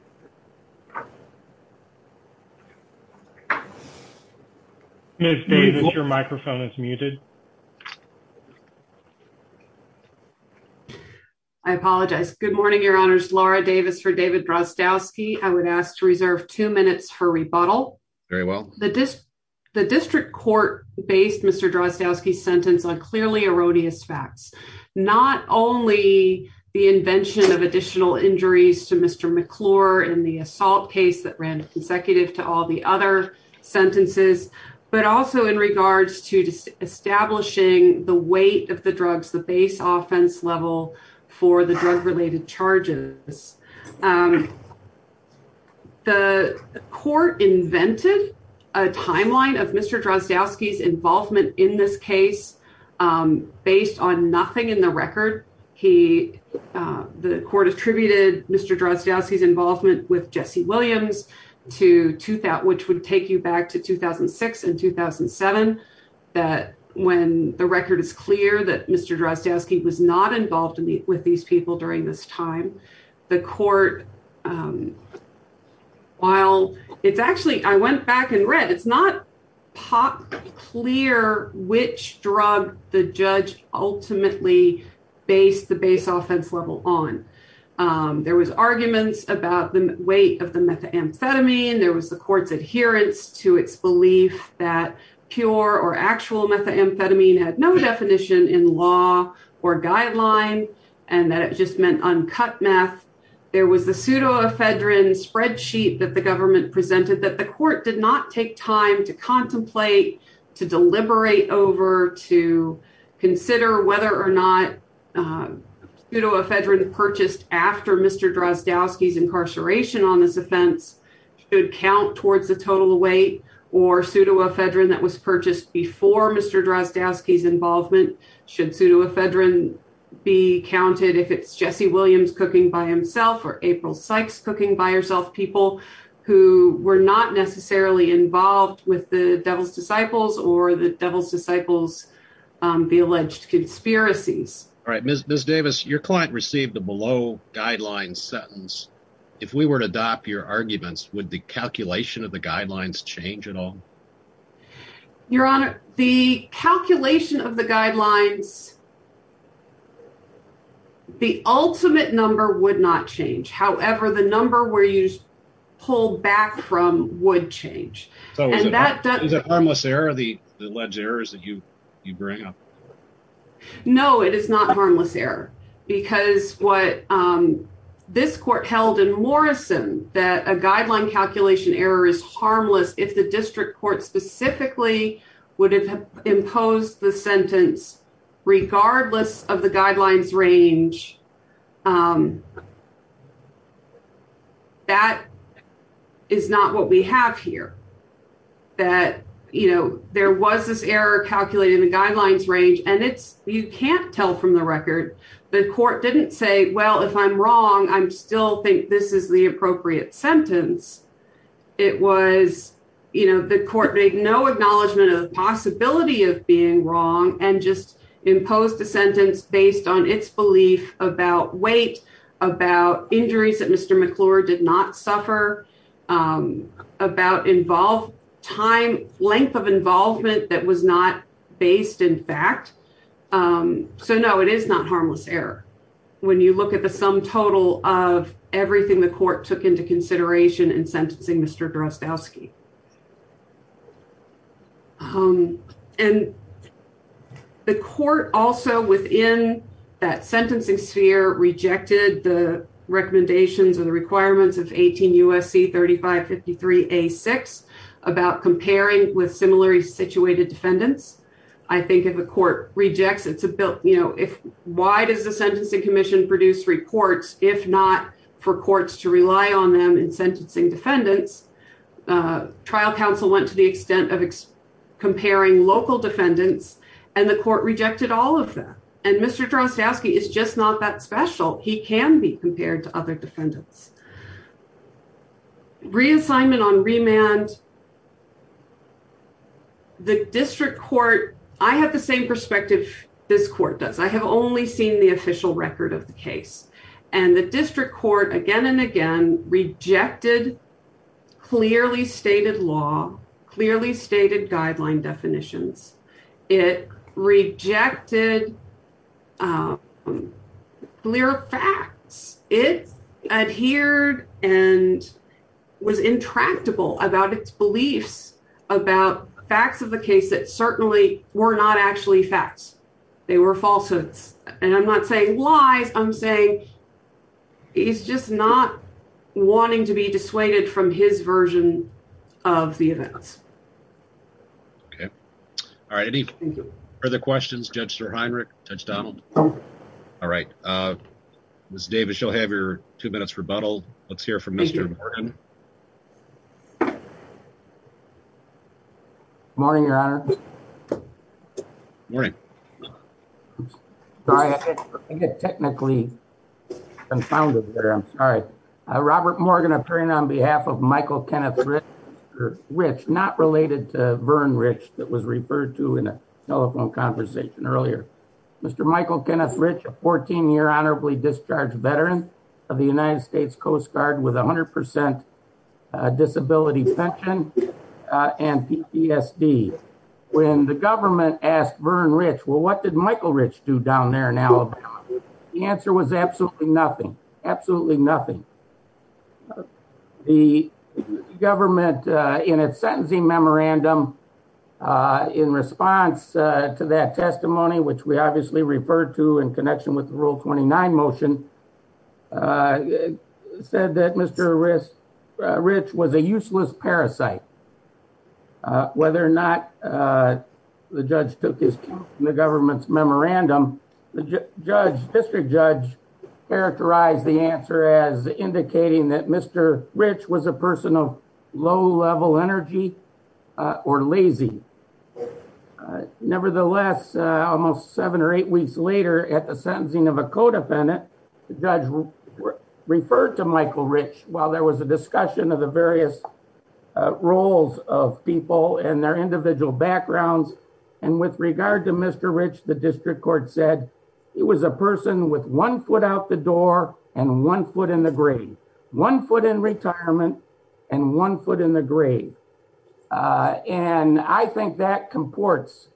Ms. Davis, your microphone is muted. I apologize. Good morning, your Honor. This is Laura Davis for David Drostowski. I would ask to reserve two minutes for rebuttal. Very well. The district court based Mr. Drostowski's sentence on clearly erodious facts. Not only the invention of additional injuries to Mr. McClure in the assault case that ran consecutive to all the other sentences, but also in regards to establishing the weight of the drugs, the base offense level for the drug-related charges. The court invented a timeline of Mr. Drostowski's involvement in this case based on nothing in the record. The court attributed Mr. Drostowski's involvement with the case. The record is clear that Mr. Drostowski was not involved with these people during this time. The court, while it's actually, I went back and read, it's not clear which drug the judge ultimately based the base offense level on. There was argument about the weight of the methamphetamine. There was the court's adherence to its belief that pure or actual methamphetamine had no definition in law or guidelines and that it just meant uncut meth. There was a pseudoephedrine spreadsheet that the government presented that the court did not take time to contemplate, to deliberate over, to consider whether or not pseudoephedrine purchased after Mr. Drostowski's incarceration on this offense should count towards the total weight or pseudoephedrine that was involved. Should pseudoephedrine be counted if it's Jesse Williams cooking by himself or April Sykes cooking by herself, people who were not necessarily involved with the devil's disciples or the devil's disciples, the alleged conspiracies. All right, Ms. Davis, your client received the below guidelines sentence. If we were to adopt your arguments, would the calculation of the guidelines, the ultimate number would not change. However, the number where you pulled back from would change. Is it harmless error, the alleged errors that you bring up? No, it is not harmless error because what this court held in Morrison that a guideline calculation error is harmless if the district court specifically would have imposed the sentence regardless of the guidelines range. That is not what we have here, that there was this error calculated in the guidelines range and you can't tell from the record. The court didn't say, well, if I'm wrong, I still think this is the appropriate sentence. It was, you know, the court made no acknowledgement of the possibility of being wrong and just imposed the sentence based on its belief about weight, about injuries that Mr. McClure did not suffer, about length of involvement that was not based in fact. So, no, it is not harmless error when you look at the sum total of everything the court took into consideration in sentencing Mr. Drozdowski. And the court also within that sentencing sphere rejected the recommendations and requirements of 18 U.S.C. 3553A6 about comparing with similarly situated defendants. I think if the court rejected to, you know, why does the sentencing commission produce reports if not for courts to rely on them in sentencing defendants? Trial counsel went to the extent of comparing local defendants and the court rejected all of them. And Mr. Drozdowski is just not that special. He can be compared to other defendants. Reassignment on remand, the district court, I have the same perspective this court does. I have only seen the official record of the case. And the district court again and again rejected clearly stated law, clearly stated guideline definitions. It rejected clear facts. It adhered and was intractable about its beliefs about facts of the case that certainly were not actually facts. They were falsehoods. And I'm not saying why. I'm saying he's just not wanting to be dissuaded from his version of the event. Okay. All right. Any further questions, Judge SirHeinrich, Judge Donald? All right. Ms. Davis, you'll have your two minutes rebuttal. Let's hear from Mr. Morgan. Morning, Your Honor. Morning. Sorry, I get technically confounded there. I'm sorry. Robert Morgan, on behalf of Michael Kenneth Rich, not related to Vern Rich that was referred to in a telephone conversation earlier. Mr. Michael Kenneth Rich, a 14-year honorably discharged veteran of the United States Coast Guard with 100% disability pension and PTSD. When the government asked Vern Rich, well, what did Michael Rich do down there in Alabama? The answer was absolutely nothing. The government in a sentencing memorandum in response to that testimony, which we obviously referred to in connection with the Rule 29 motion, said that Mr. Rich was a useless parasite. Whether or not the judge took this from the memorandum, the judge characterized the answer as indicating that Mr. Rich was a person of low level energy or lazy. Nevertheless, almost seven or eight weeks later at the sentencing of a co-defendant, the judge referred to Michael Rich while there was a discussion of the various roles of people and their individual backgrounds. With regard to Mr. Rich, the district court said he was a person with one foot out the door and one foot in the grave. One foot in retirement and one foot in the grave. I think that comports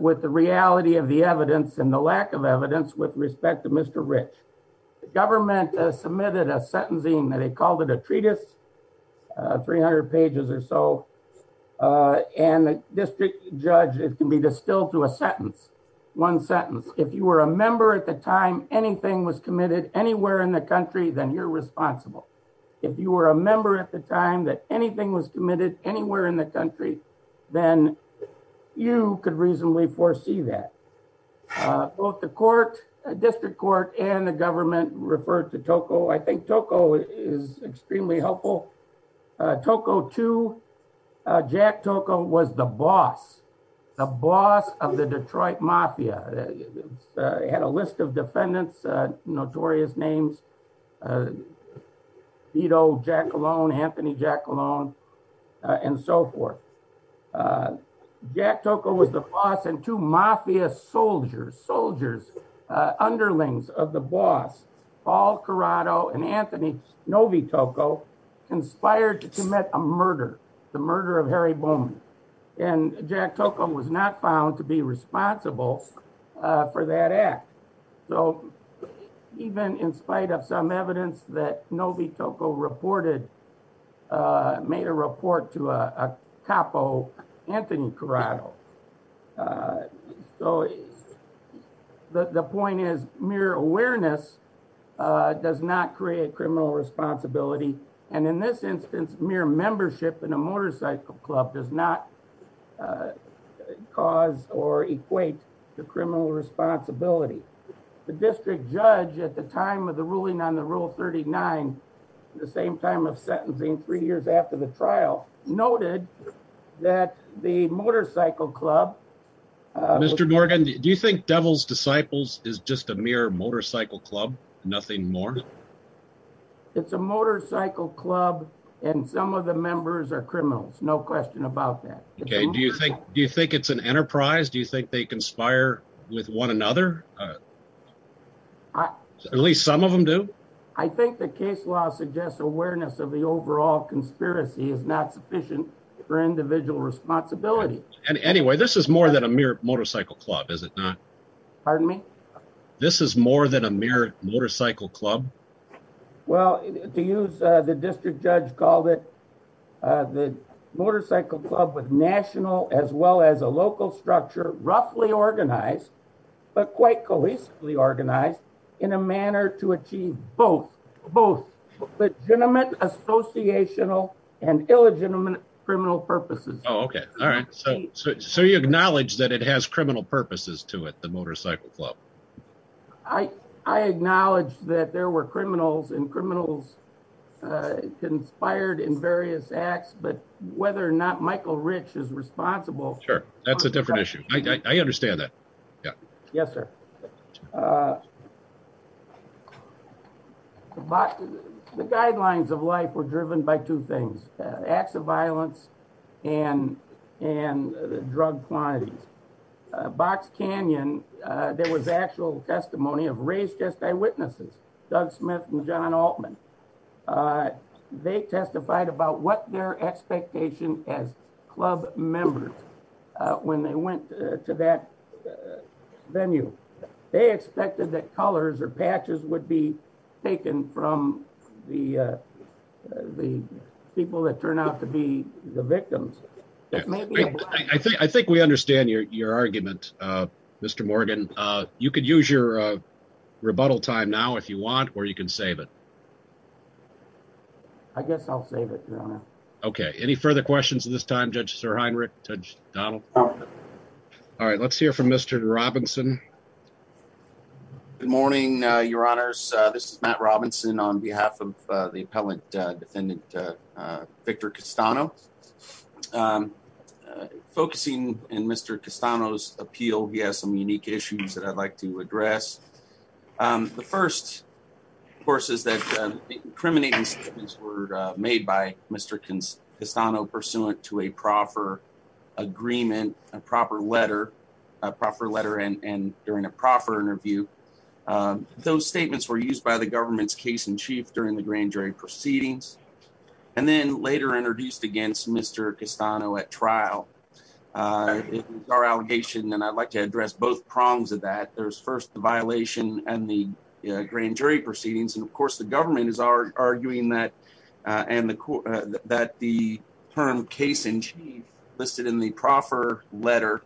with the reality of the evidence and the lack of evidence with respect to Mr. Rich. The government submitted a sentencing, they called it a treatise of 300 pages or so, and the district judge is to be distilled to a sentence, one sentence. If you were a member at the time anything was committed anywhere in the country, then you're responsible. If you were a member at the time that anything was committed anywhere in the country, then you could reasonably foresee that. Both the district court and the government referred to Tocco. I think Tocco is extremely helpful. Tocco too, Jack Tocco was the boss, the boss of the Detroit Mafia. He had a list of defendants, notorious names, Vito Jackalone, Anthony Jackalone, and so forth. Jack Tocco was the boss and two Mafia soldiers, soldiers, underlings of the boss, Paul Corrado and Anthony Snovitoco, inspired to commit a murder, the murder of Harry Bowman. And Jack Tocco was not found to be responsible for that act. So even in spite of some evidence that Snovitoco reported, made a report to a capo, Anthony Corrado. So the point is mere awareness does not create criminal responsibility. And in this instance, mere membership in a motorcycle club does not cause or equate to criminal responsibility. The district judge at the time of the ruling on the rule 39, the same time of sentencing three years after the trial, noted that the motorcycle club... Mr. Morgan, do you think Devil's Disciples is just a mere motorcycle club, nothing more? It's a motorcycle club and some of the members are criminals, no question about that. Okay, do you think, do you think it's an enterprise? Do you think they conspire with one another? At least some of them do? I think the case law suggests awareness of the overall conspiracy is not sufficient for individual responsibility. And anyway, this is more than a mere motorcycle club, is it not? Pardon me? This is more than a mere motorcycle club? Well, to use the district judge's call it, the motorcycle club was national as well as a local structure, roughly organized, but quite cohesively organized in a manner to achieve both, legitimate associational and illegitimate criminal purposes. Oh, okay. All right. So you acknowledge that it has criminal purposes to it, the motorcycle club? I acknowledge that there were criminals and criminals conspired in various acts, but whether or not Michael Rich is responsible... Sure, that's a different issue. I understand that. Yes, sir. But the guidelines of life were driven by two things, acts of violence and drug quantity. Box Canyon, there was actual testimony of race just by witnesses, Doug Smith and John Altman. They testified about what their expectation as club members when they went to that venue. They expected that colors or patches would be taken from the people that turned out to be the victims. I think we understand your argument, Mr. Morgan. You could use your rebuttal time now if you want, or you can save it. I guess I'll save it now. Okay. Any further questions at this time, Judge Sir Heinrich, Judge Donald? All right. Let's hear from Mr. Robinson. Good morning, your honors. This is Matt Robinson on behalf of the appellant defendant Victor Castano. Focusing in Mr. Castano's appeal, he has some unique issues that I'd like to address. The first, of course, is that the incriminating statements were made by Mr. Castano pursuant to a proper agreement, a proper letter, a proper letter and during a proper interview. Those statements were used by the government's case in chief during the grand jury proceedings and then later introduced against Mr. Castano at trial. It's our allegation and I'd like to address both prongs of that. There's first the violation and the grand jury proceedings and, of course, the government is arguing that the term case in chief listed in the proper letter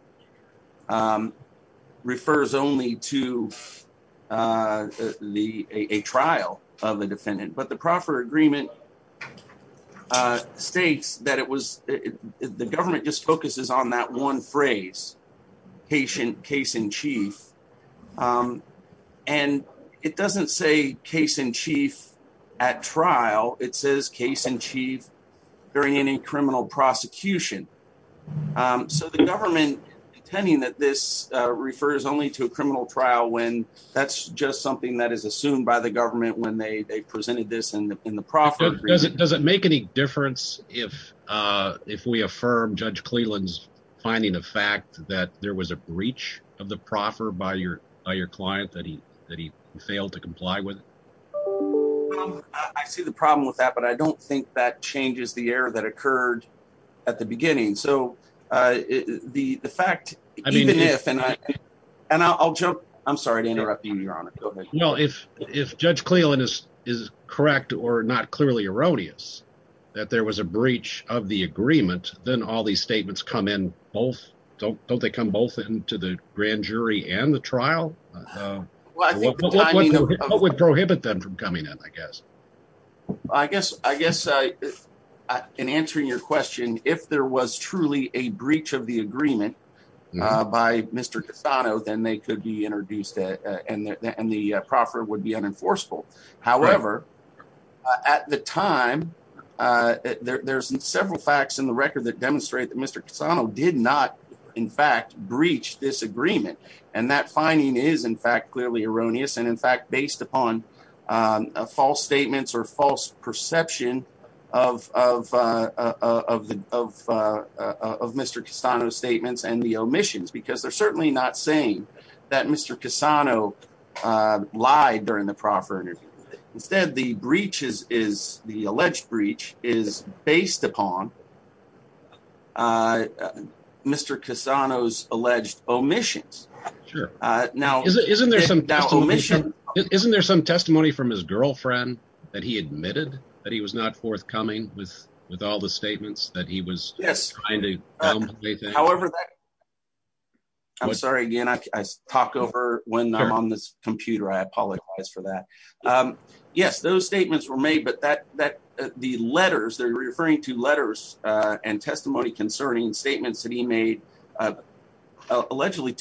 refers only to a trial of the defendant, but the proper agreement states that the government just focuses on that one phrase, patient case in chief, and it doesn't say case in chief at trial. It says case in chief during any criminal prosecution. So the government pretending that this refers only to a criminal trial when that's just something that is assumed by the government when they presented this in the proper agreement. Does it make any difference if we affirm Judge Cleland's finding of fact that there was a breach of the proffer by your client that he failed to comply with? I see the problem with that, but I don't think that changes the error that occurred at the beginning. So the fact, even if, and I'll jump, I'm sorry to interrupt you, Your Honor. No, if Judge Cleland is correct or not clearly erroneous that there was a breach of the agreement, then all these statements come in both, don't they come both into the grand jury and the trial? What would prohibit them from coming in, I guess? I guess in answering your question, if there was truly a breach of the agreement by Mr. Cassano, then they could be introduced and the proffer would be unenforceable. However, at the time, there's several facts in the record that demonstrate that Mr. Cassano did not, in fact, breach this agreement. And that finding is in fact clearly erroneous and in fact, based upon false statements or false perception of Mr. Cassano's statements and the omissions, because they're certainly not saying that Mr. Cassano lied during the proffer. Instead, the alleged breach is based upon Mr. Cassano's alleged omissions. Sure. Isn't there some testimony from his girlfriend that he admitted that he was not forthcoming with all the statements that he was trying to make? However, I'm sorry again, I talked over when I'm on this computer, I apologize for that. Yes, those statements were made, but the letters, they're referring to letters and testimony concerning statements that he made allegedly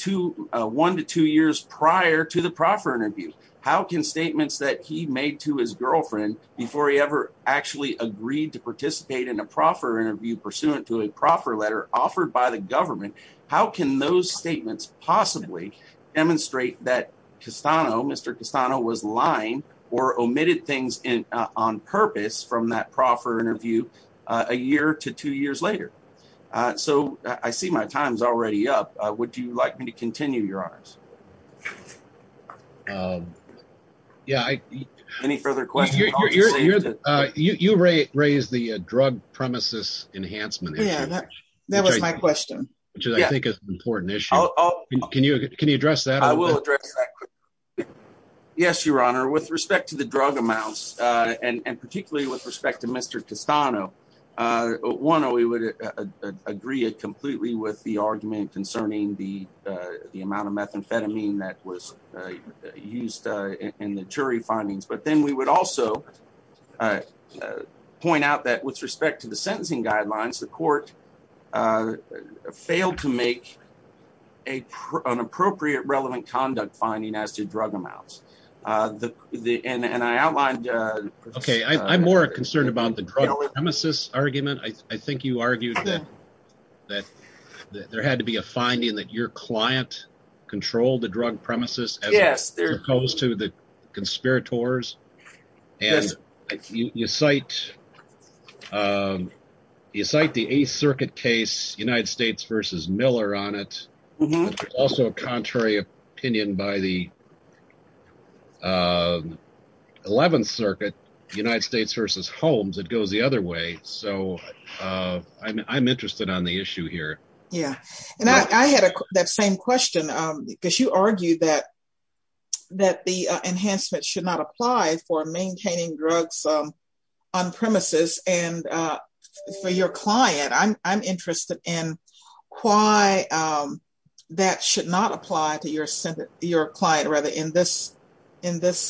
one to two years prior to the proffer interviews. How can statements that he made to his girlfriend before he ever actually agreed to participate in a proffer interview pursuant to a proffer letter offered by the government, how can those statements possibly demonstrate that Mr. Cassano was lying or omitted things on purpose from that proffer interview a year to two years later? I see my time's already up. Would you like me to continue, your honors? Any further questions? You raised the drug premises enhancement. That was my question. Which I think is an important issue. Can you address that? Yes, your honor. With respect to the drug amounts and particularly with respect to Mr. Cassano, one, we would agree completely with the argument concerning the amount of methamphetamine that was used in the jury findings, but then we would also point out that with respect to the sentencing guidelines, the court failed to make an appropriate relevant conduct finding as to drug amounts. I'm more concerned about the drug premises argument. I think you argued that there had to be a finding that your client controlled the drug premises as opposed to the conspirators. You cite the Eighth Circuit case, United States versus Miller on it, also a contrary opinion by the 11th Circuit, United States versus Holmes. It goes the other way. I'm interested on the issue here. I had that same question because you argued that the enhancement should not apply for maintaining drugs on premises. For your client, I'm interested in why that should not apply to your client in this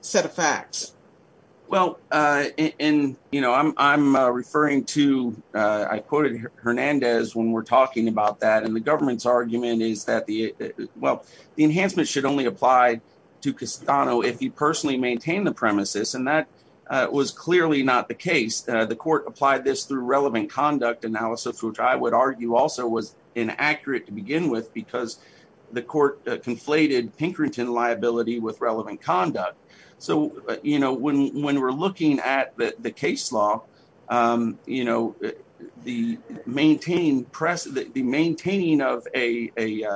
set of facts. Well, I'm referring to, I quoted Hernandez when we're talking about that. The government's argument is that the enhancement should only apply to Cassano if he personally maintained the premises. That was clearly not the case. The court applied this through relevant conduct which I would argue also was inaccurate to begin with because the court conflated Pinkerton liability with relevant conduct. When we're looking at the case law, the maintaining of a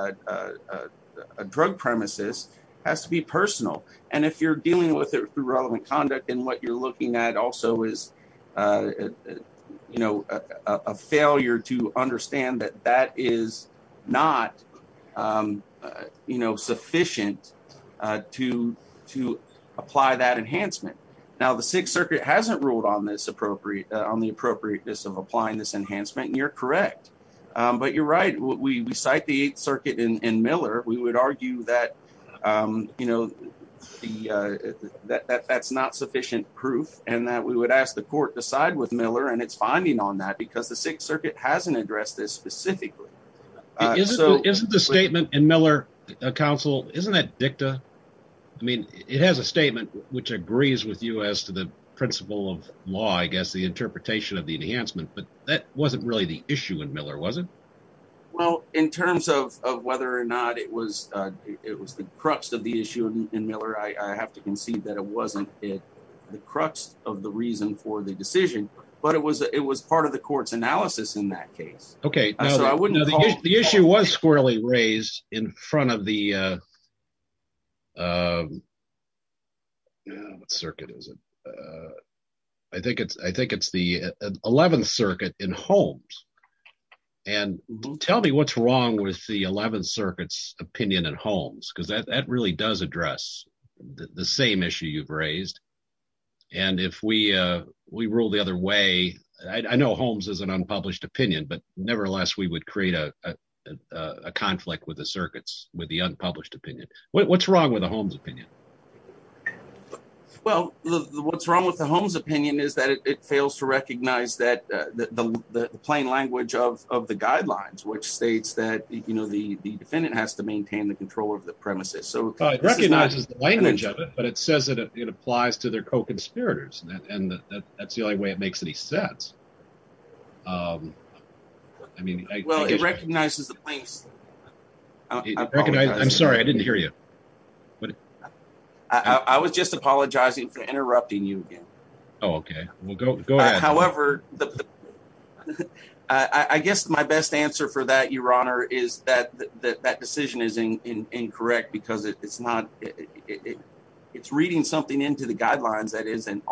drug premises has to be personal. If you're dealing with it through failure to understand that that is not sufficient to apply that enhancement. Now, the Sixth Circuit hasn't ruled on the appropriateness of applying this enhancement. You're correct. You're right. We cite the Eighth Circuit and Miller. We would argue that that's not sufficient proof. We would ask the court to side with Miller and its finding on that because the Sixth Circuit hasn't addressed this specifically. Isn't the statement in Miller, counsel, isn't that dicta? I mean, it has a statement which agrees with you as to the principle of law, I guess, the interpretation of the enhancement, but that wasn't really the issue in Miller, was it? Well, in terms of whether or not it was the crux of the issue in Miller, I have to concede that it was part of the court's analysis in that case. The issue was squarely raised in front of the Eleventh Circuit in Holmes. Tell me what's wrong with the Eleventh Circuit's opinion in Holmes because that really does address the same issue you've raised. I know Holmes is an unpublished opinion, but nevertheless, we would create a conflict with the circuits with the unpublished opinion. What's wrong with the Holmes opinion? Well, what's wrong with the Holmes opinion is that it fails to recognize the plain language of the guidelines, which states that the defendant has to maintain the control of the premises. It recognizes the language of it, but it says that it applies to their co-conspirators, and that's the only way it makes any sense. Well, it recognizes the plain language. I'm sorry, I didn't hear you. I was just apologizing for interrupting you again. Oh, okay. Well, go ahead. But I guess my best answer for that, Your Honor, is that that decision is incorrect because it's reading something into the guidelines that isn't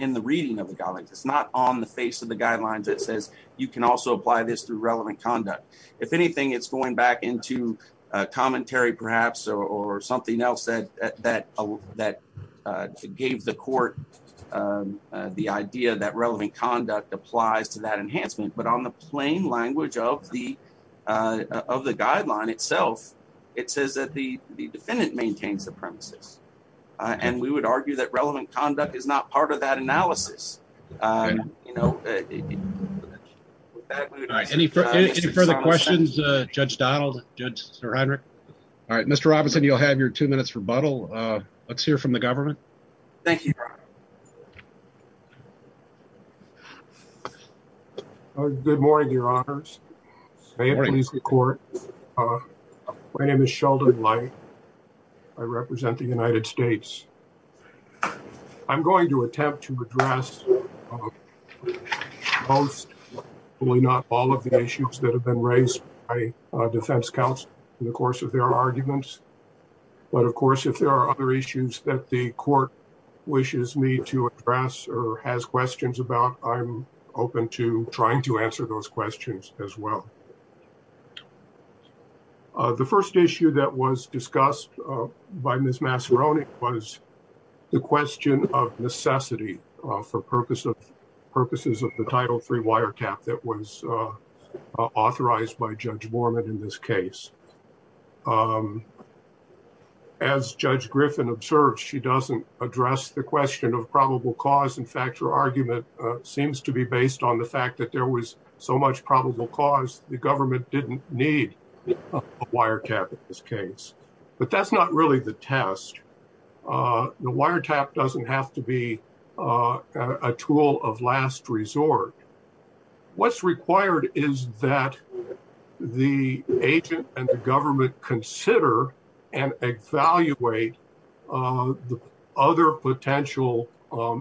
in the reading of the guidelines. It's not on the face of the guidelines that says you can also apply this through relevant conduct. If anything, it's going back into commentary, perhaps, or something else that gave the court the idea that relevant conduct applies to that enhancement. But on the plain language of the guideline itself, it says that the defendant maintains the premises, and we would argue that relevant conduct is not part of that analysis. All right. Any further questions, Judge Donald, Judge Siridric? All right. Mr. Robinson, you'll have your two minutes rebuttal. Let's hear from the government. Thank you. Good morning, Your Honors. My name is Sheldon Light. I represent the United States. I'm going to attempt to address most, if not all, of the issues that have been raised by the court. But, of course, if there are other issues that the court wishes me to address or has questions about, I'm open to trying to answer those questions as well. The first issue that was discussed by Ms. Masseroni was the question of necessity for purposes of the Title III wiretap that was authorized by Judge Mormon in this case. As Judge Griffin observed, she doesn't address the question of probable cause. In fact, her argument seems to be based on the fact that there was so much probable cause, the government didn't need a wiretap in this case. But that's not really the test. The wiretap doesn't have to be a tool of last resort. What's required is that the agent and the government consider and evaluate other potential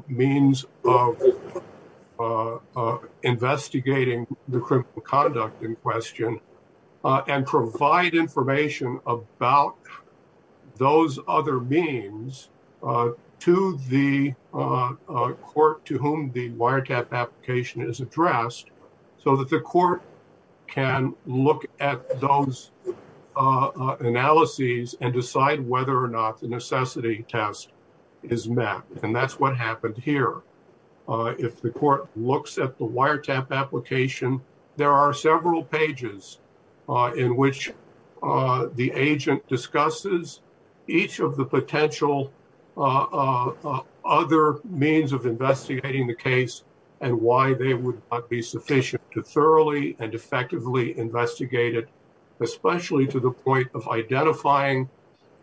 means of investigating the criminal conduct in question and provide information about those other means to the court to whom the wiretap application is addressed so that the court can look at those analyses and decide whether or not the necessity test is met. And that's what happened here. If the court looks at the wiretap application, there are several pages in which the agent discusses each of the potential other means of investigating the case and why they would not be sufficient to thoroughly and effectively investigate it, especially to the point of identifying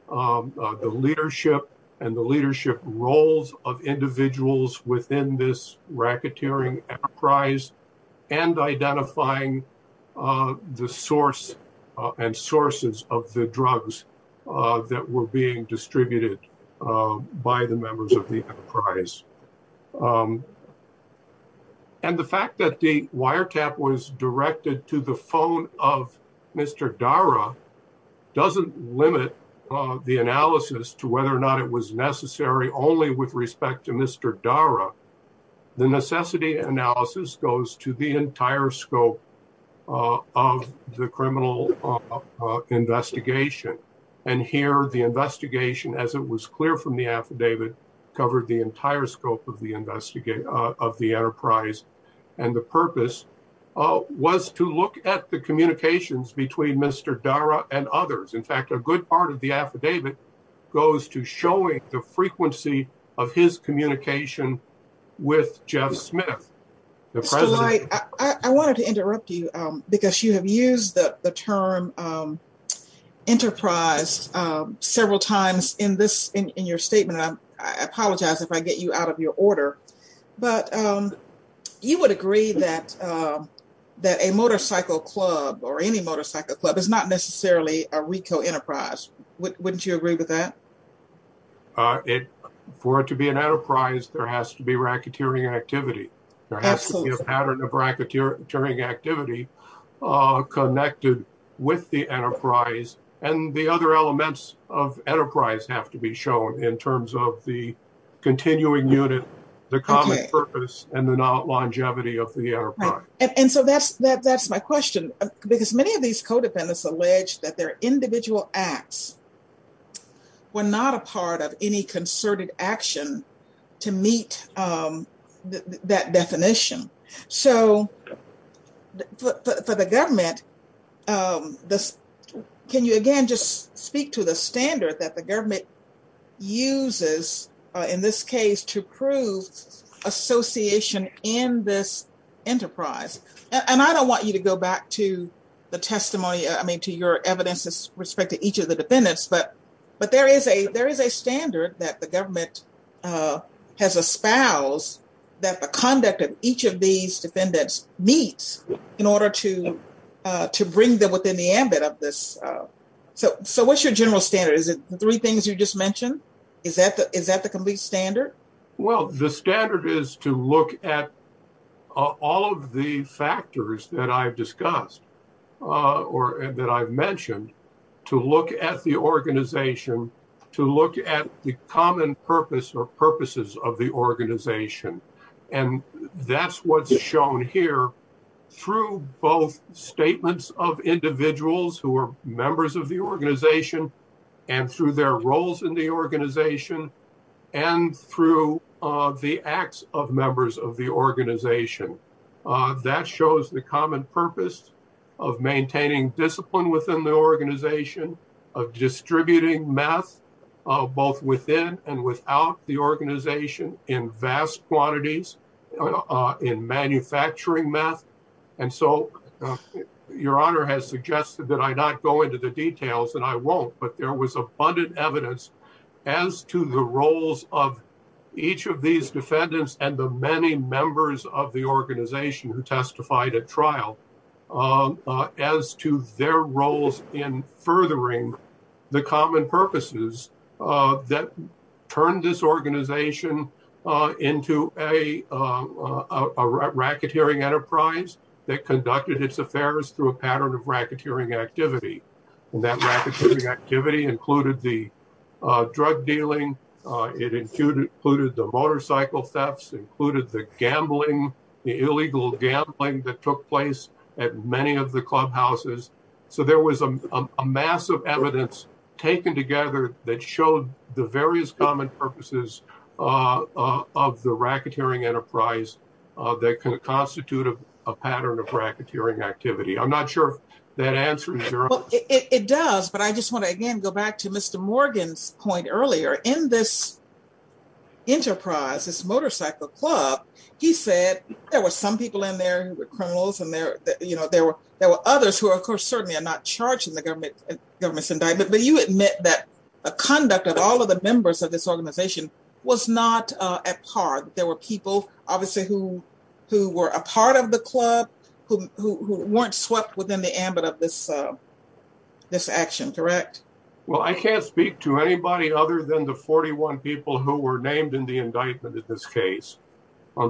the leadership and the leadership roles of individuals within this and sources of the drugs that were being distributed by the members of the enterprise. And the fact that the wiretap was directed to the phone of Mr. Dara doesn't limit the analysis to whether or not it was necessary only with respect to Mr. Dara. The necessity analysis goes to the investigation. And here the investigation, as it was clear from the affidavit, covered the entire scope of the enterprise. And the purpose was to look at the communications between Mr. Dara and others. In fact, a good part of the affidavit goes to showing the frequency of his communication with Jeff Smith, the president. I wanted to interrupt you because you have used the term enterprise several times in your statement. I apologize if I get you out of your order. But you would agree that a motorcycle club or any motorcycle club is not necessarily a RICO enterprise. Wouldn't you agree with that? For it to be an enterprise, there has to be racketeering activity. There has to be a pattern of racketeering activity connected with the enterprise. And the other elements of enterprise have to be shown in terms of the continuing unit, the common purpose, and the longevity of the enterprise. And so that's my question. Because many of these co-defendants allege that their individual acts were not a part of any concerted action to meet that definition. So for the government, can you again just speak to the standard that the government uses in this case to prove association in this enterprise? And I don't want you to go back to the testimony, I mean, to your evidence with respect to each of the defendants. But there is a standard that the government has espoused that the conduct of each of these defendants meets in order to bring them within the ambit of this. So what's your general standard? Is it the three things you just mentioned? Is that the complete standard? Well, the standard is to look at all of the factors that I've discussed or that I've mentioned to look at the organization, to look at the common purpose or purposes of the organization. And that's what's shown here through both statements of individuals who are members of the organization and through their roles in the organization and through the acts of members of the organization, of distributing meth, both within and without the organization in vast quantities, in manufacturing meth. And so your honor has suggested that I not go into the details and I won't, but there was abundant evidence as to the roles of each of these defendants and the members of the organization who testified at trial as to their roles in furthering the common purposes that turned this organization into a racketeering enterprise that conducted its affairs through a pattern of racketeering activity. And that activity included the drug dealing. It included the motorcycle thefts, included the gambling, the illegal gambling that took place at many of the clubhouses. So there was a massive evidence taken together that showed the various common purposes of the racketeering enterprise that can constitute a pattern of racketeering activity. I'm not sure that answers your question. It does, but I just want to again go back to Mr. Morgan's point earlier. In this enterprise, this motorcycle club, he said there were some people in there who were criminals and there were others who, of course, certainly are not charged in the government's indictment, but you admit that the conduct of all of the members of this organization was not at par. There were people obviously who were a part of the club, who weren't swept within the ambit of this action, correct? Well, I can't speak to anybody other than the 41 people who were named in the indictment in this case.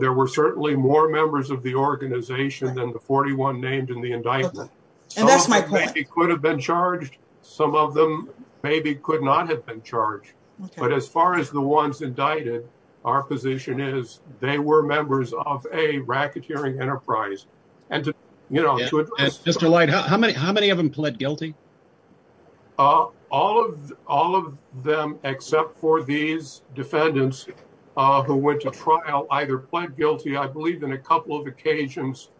There were certainly more members of the organization than the 41 named in the indictment. And that's my point. Some of them maybe could have been charged, some of them maybe could not have been charged. But as far as the ones indicted, our position is they were members of a racketeering enterprise. And to, you know, Mr. Light, how many, how many of them pled guilty? Uh, all of, all of them, except for these defendants, uh, who went to trial, either pled guilty, I believe in a couple of occasions,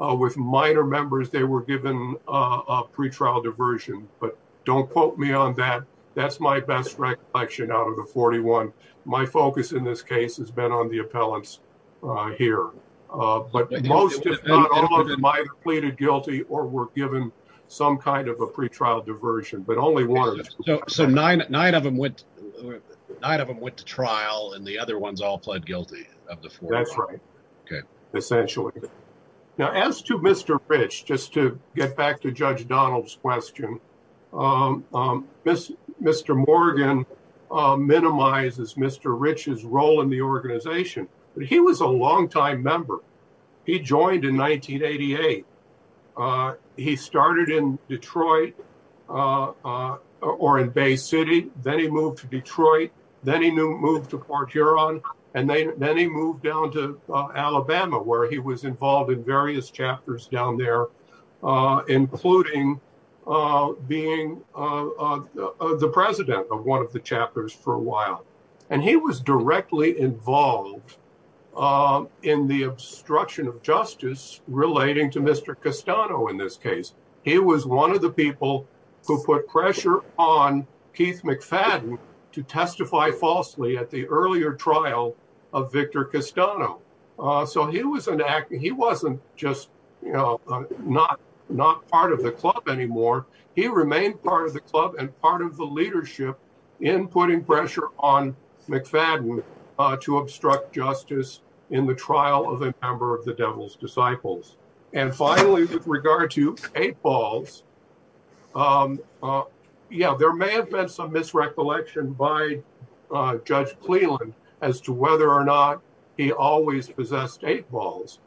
uh, with minor members, they were given, uh, a pretrial diversion, but don't quote me on that. That's my best recollection out of the 41. My focus in this case has been on the appellants, uh, here. Uh, but most of them might have pleaded guilty or were given some kind of a pretrial diversion, but only one. So, so nine, nine of them went, nine of them went to trial and the other ones all pled guilty. That's right. Okay. Essentially. Now as to Mr. Rich, just to get back to judge Donald's question, um, um, this Morgan, uh, minimizes Mr. Rich's role in the organization, but he was a long time member. He joined in 1988. Uh, he started in Detroit, uh, uh, or in Bay city. Then he moved to Detroit. Then he moved to Port Huron and then he moved down to Alabama where he was involved in various of the chapters for a while. And he was directly involved, um, in the obstruction of justice relating to Mr. Castano. In this case, he was one of the people who put pressure on Keith McFadden to testify falsely at the earlier trial of Victor Castano. Uh, so he was an act and he wasn't just, you know, not, not part of the club anymore. He remained part of the club and part of the leadership in putting pressure on McFadden, uh, to obstruct justice in the trial of a member of the devil's disciples. And finally, with regard to eight balls, um, uh, yeah, there may have been some misrecollection by, uh, judge Cleveland as to whether or not he always possessed eight balls.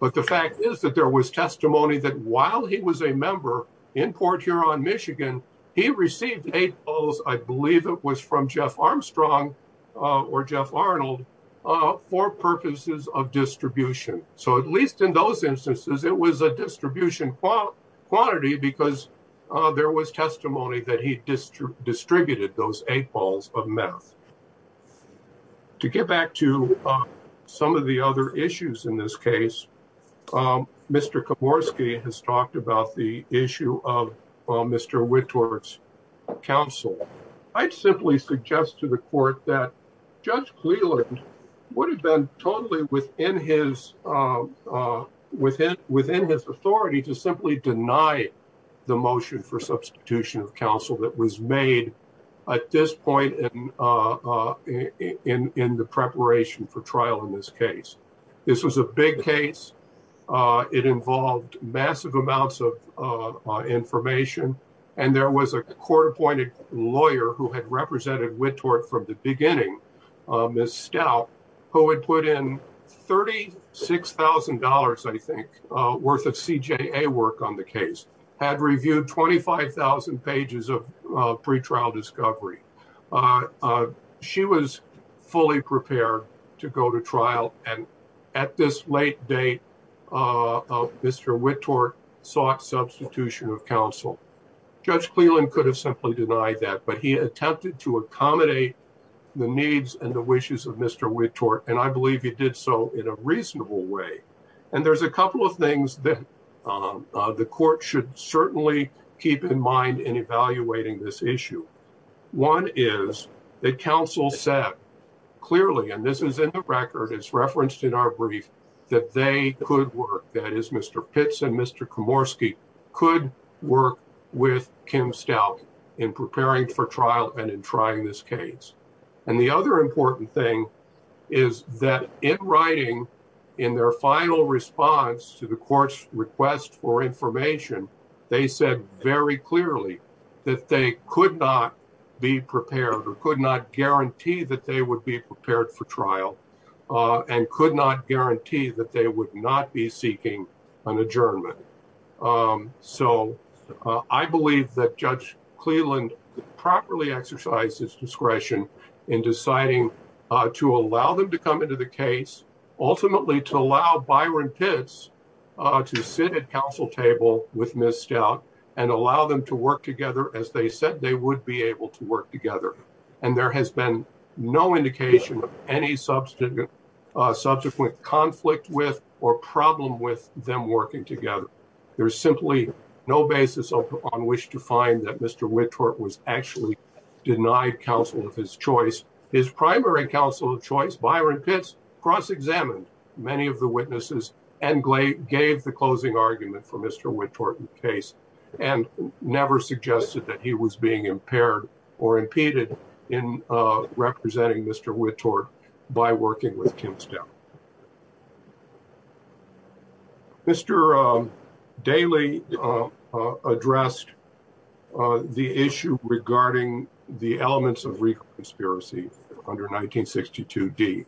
But the fact is that there was testimony that while he was a member in Port Huron, Michigan, he received eight balls, I believe it was from Jeff Armstrong, uh, or Jeff Arnold, uh, for purposes of distribution. So at least in those instances, it was a distribution quantity because, uh, there was testimony that he distributed those eight balls of meth. To get back to, uh, some of the other issues in this case, um, Mr. Komorski has talked about the court's counsel. I'd simply suggest to the court that judge Cleveland would have been totally within his, uh, uh, within, within his authority to simply deny the motion for substitution of counsel that was made at this point in, uh, uh, in, in the preparation for trial in this case. This was a big case. Uh, it involved massive amounts of, uh, uh, information and there was a court appointed lawyer who had represented Wittworth from the beginning, uh, Ms. Stout, who had put in $36,000, I think, uh, worth of CJA work on the case, had reviewed 25,000 pages of, uh, pre-trial discovery. Uh, uh, she was fully prepared to go to trial and at this late date, uh, Mr. Wittworth sought substitution of counsel. Judge Cleveland could have simply denied that, but he attempted to accommodate the needs and the wishes of Mr. Wittworth, and I believe he did so in a reasonable way. And there's a couple of things that, um, uh, the court should certainly keep in mind in evaluating this issue. One is that counsel said clearly, and this is in the record, it's referenced in our brief, that they could work, that is Mr. Pitts and Mr. Komorski, could work with Kim Stout in preparing for trial and in trying this case. And the other important thing is that in writing, in their final response to the court's request for information, they said, very clearly, that they could not be prepared or could not guarantee that they would be prepared for trial, uh, and could not guarantee that they would not be seeking an adjournment. Um, so, uh, I believe that Judge Cleveland properly exercised his discretion in deciding, uh, to allow them to come into the case, ultimately to allow Byron Pitts, uh, to sit at counsel table with Ms. Stout and allow them to work together as they said they would be able to work together. And there has been no indication of any subsequent, uh, subsequent conflict with or problem with them working together. There's simply no basis on which to find that Mr. Whitworth was actually denied counsel of his choice. His primary counsel of choice, Byron Pitts, cross-examined many of the witnesses and gave the closing argument for Mr. Whitworth's case and never suggested that he was being impaired or impeded in, uh, representing Mr. Whitworth by working with Kim Stout. Mr. Daley, uh, addressed, uh, the issue regarding the elements of legal conspiracy under 1962D.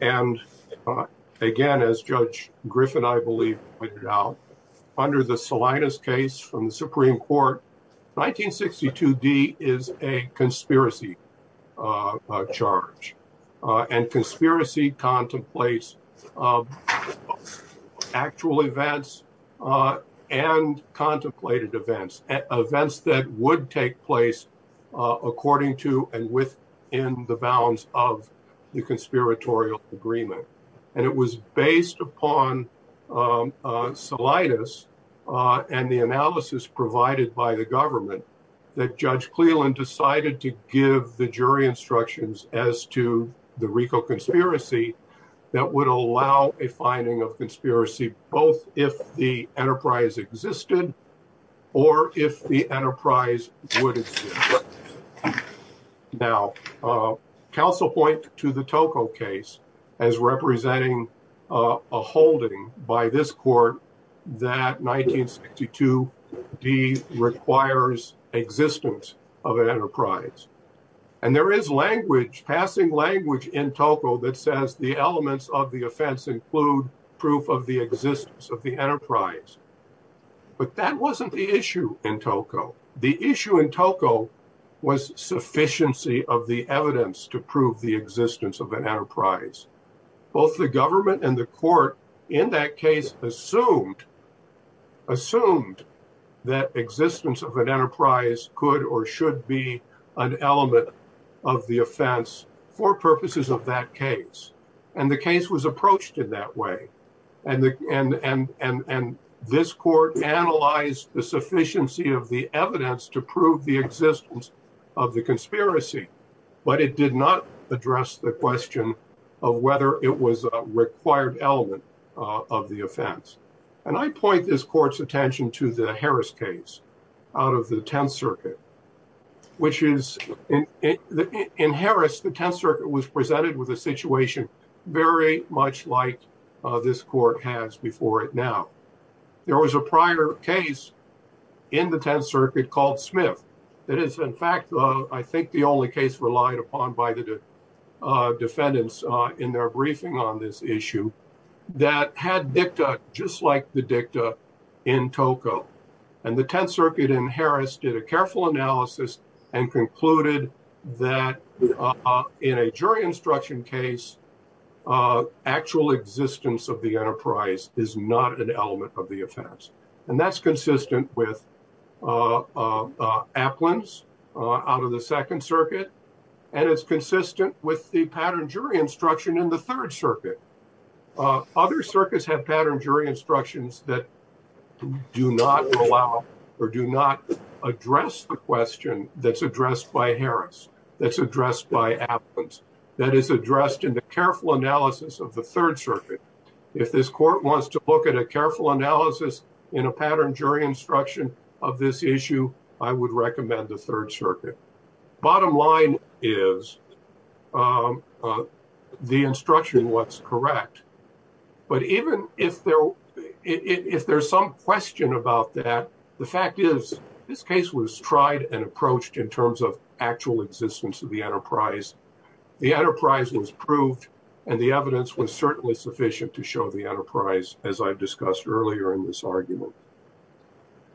And, uh, again, as Judge Griffin, I believe, pointed out, under the Salinas case from the Supreme Court, 1962D is a conspiracy, uh, uh, charge, uh, and conspiracy contemplates, uh, actual events, uh, and contemplated events, uh, events that would take place, uh, according to and within the bounds of the conspiratorial agreement. And it was based upon, um, uh, Salinas, uh, and the analysis provided by the government that Judge Cleland decided to give the jury instructions as to the RICO conspiracy that would allow a finding of conspiracy both if the enterprise existed or if the enterprise would exist. Now, uh, counsel point to the Tocco case as representing, uh, a holding by this court that 1962D requires existence of an enterprise. And there is language, passing language in Tocco that says the elements of the offense include proof of the existence of the enterprise. But that wasn't the issue in Tocco. The issue in Tocco was sufficiency of the evidence to prove the existence of an enterprise. Both the government and the court in that case assumed, assumed that existence of an enterprise could or should be an element of the offense for purposes of that case. And the case was approached in that way. And, and, and, and this court analyzed the sufficiency of the evidence to prove the existence of the conspiracy, but it did not address the question of whether it was a required element of the offense. And I point this court's attention to the Harris case out of the 10th which is in, in, in Harris, the 10th circuit was presented with a situation very much like, uh, this court has before it now. There was a prior case in the 10th circuit called Smith that is in fact, uh, I think the only case relied upon by the, uh, defendants, uh, in their briefing on this issue that had dicta just like the dicta in Tocco. And the 10th circuit in Harris did a analysis and concluded that, uh, in a jury instruction case, uh, actual existence of the enterprise is not an element of the offense. And that's consistent with, uh, uh, uh, Aplin's, uh, out of the second circuit. And it's consistent with the pattern jury instruction in the third circuit. Uh, other circuits have pattern jury instructions that do not allow or do not address the question that's addressed by Harris, that's addressed by Aplin's, that is addressed in the careful analysis of the third circuit. If this court wants to look at a careful analysis in a pattern jury instruction of this issue, I would recommend the third circuit. Bottom line is, um, uh, the instruction was correct, but even if there, if there's some question about that, the fact is this case was tried and approached in terms of actual existence of the enterprise. The enterprise was proved and the evidence was certainly sufficient to show the enterprise, as I've discussed earlier in this argument.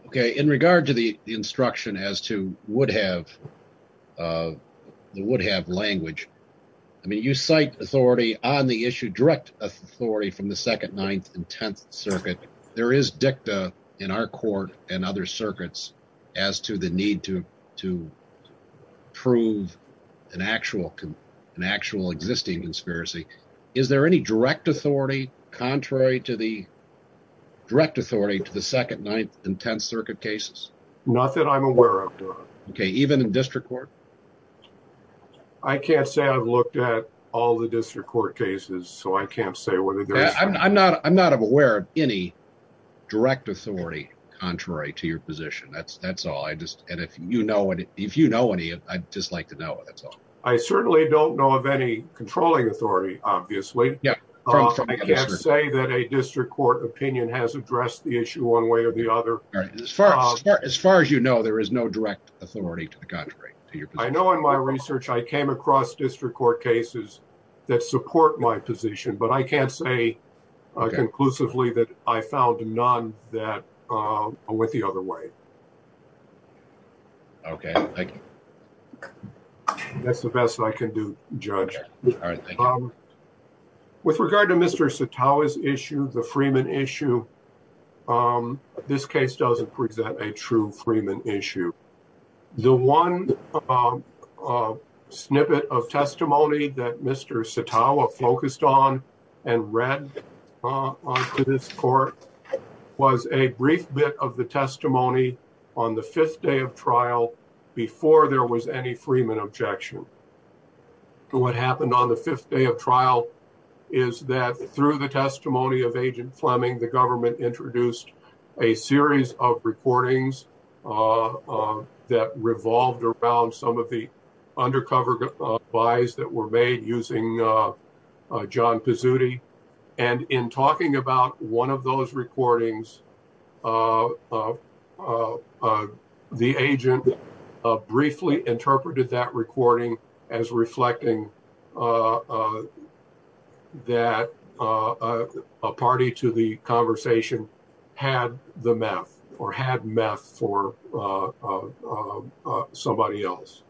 Okay. In regard to the instruction as to would have, uh, the would have language. I mean, you cite authority on the issue, direct authority from the second ninth and 10th circuit. There is dicta in our court and other circuits as to the need to, to prove an actual, an actual existing conspiracy. Is there any direct authority contrary to the direct authority to the second ninth and 10th circuit cases? Not that I'm aware of. Okay. Even in district court. I can't say I've looked at all the district court cases, so I can't say whether I'm not, I'm not aware of any direct authority contrary to your position. That's, that's all. I just, and if you know what, if you know any, I'd just like to know it. That's all. I certainly don't know of any controlling authority, obviously. I can't say that a district court opinion has addressed the issue one way or the other. As far as you know, there is no direct authority to the contrary. I know in my research, I came across district court cases that support my position, but I can't say conclusively that I found none that went the other way. Okay. Thank you. That's the best I can do, Judge. With regard to Mr. Satawa's issue, the Freeman issue, this case doesn't present a true Freeman issue. The one snippet of testimony that Mr. Satawa focused on and read onto this court was a brief bit of the testimony on the fifth day of trial before there was any Freeman objection. What happened on the fifth day of trial is that through the testimony of Agent Fleming, the government introduced a series of recordings that revolved around some of the undercover buys that were made using John Pizzutti. In talking about one of those recordings, the agent briefly interpreted that recording as reflecting that a party to the conversation had the meth or had meth for somebody else.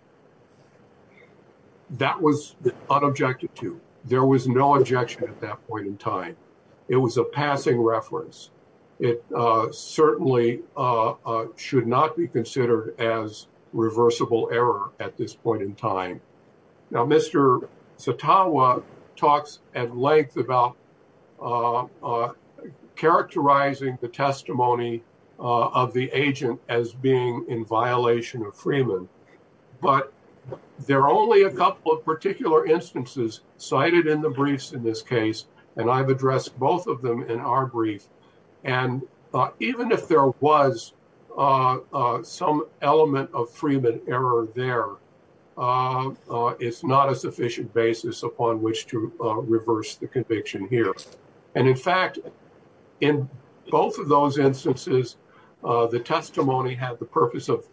That was unobjected to. There was no objection at that point in time. It was a passing reference. It certainly should not be considered as reversible error at this point in time. Now, Mr. Satawa talks at length about characterizing the testimony of the agent as being in violation of Freeman, but there are only a couple of particular instances cited in the briefs in this case, and I've addressed both of them in our brief. Even if there was some element of Freeman error there, it's not a sufficient basis upon which to reverse the conviction here. In fact, in both of those instances, the testimony had the purpose of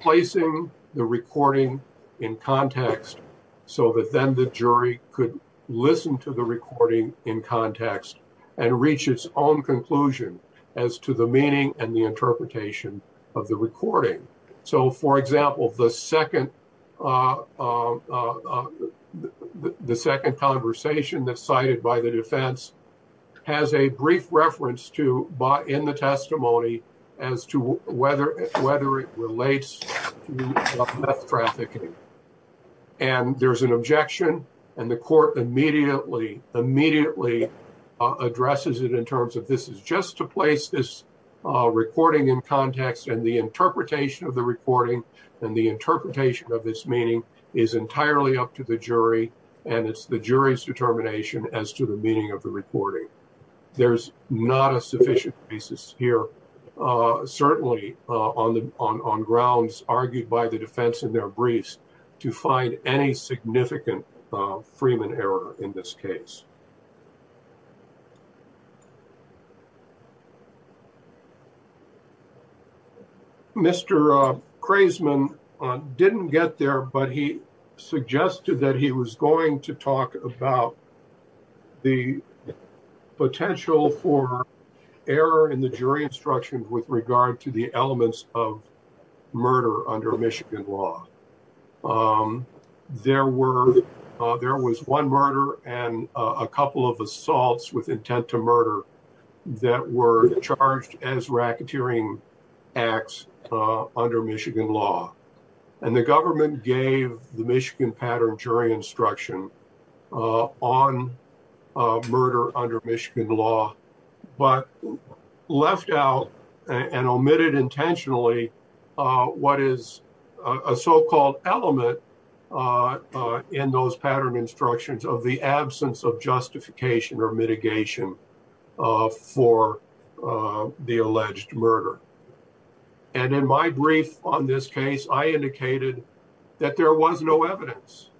placing the recording in context so that then the jury could listen to the recording in context and reach its own conclusion as to the meaning and the interpretation of the recording. So, for example, the second conversation that's to whether it relates to meth trafficking, and there's an objection, and the court immediately addresses it in terms of this is just to place this recording in context, and the interpretation of the recording and the interpretation of this meeting is entirely up to the jury, and it's the jury's determination as to the meaning of the recording. There's not a sufficient basis here, certainly on grounds argued by the defense in their briefs to find any significant Freeman error in this case. Mr. Craisman didn't get there, but he suggested that he was going to talk about the potential for error in the jury instruction with regard to the elements of murder under Michigan law. There was one murder and a couple of assaults with intent to murder that were charged as racketeering acts under Michigan law, and the government gave the one murder under Michigan law, but left out and omitted intentionally what is a so-called element in those pattern instructions of the absence of justification or mitigation for the alleged murder. And in my brief on this case, I indicated that there was no evidence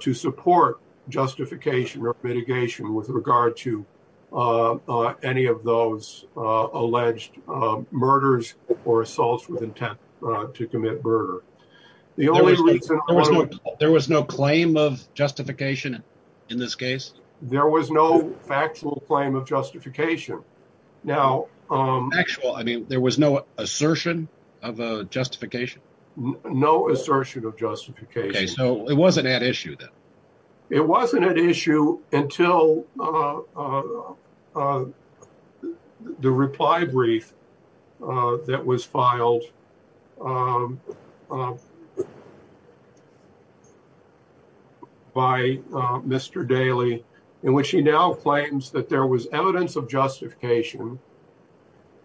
to support justification or mitigation with regard to any of those alleged murders or assaults with intent to commit murder. There was no claim of justification in this case? There was no actual claim of justification. Now, actual, I mean, there was no assertion of justification? No assertion of justification. Okay, so it wasn't at issue then? It wasn't at issue until the reply brief that was filed by Mr. Daley, in which he now claims that there was evidence of justification,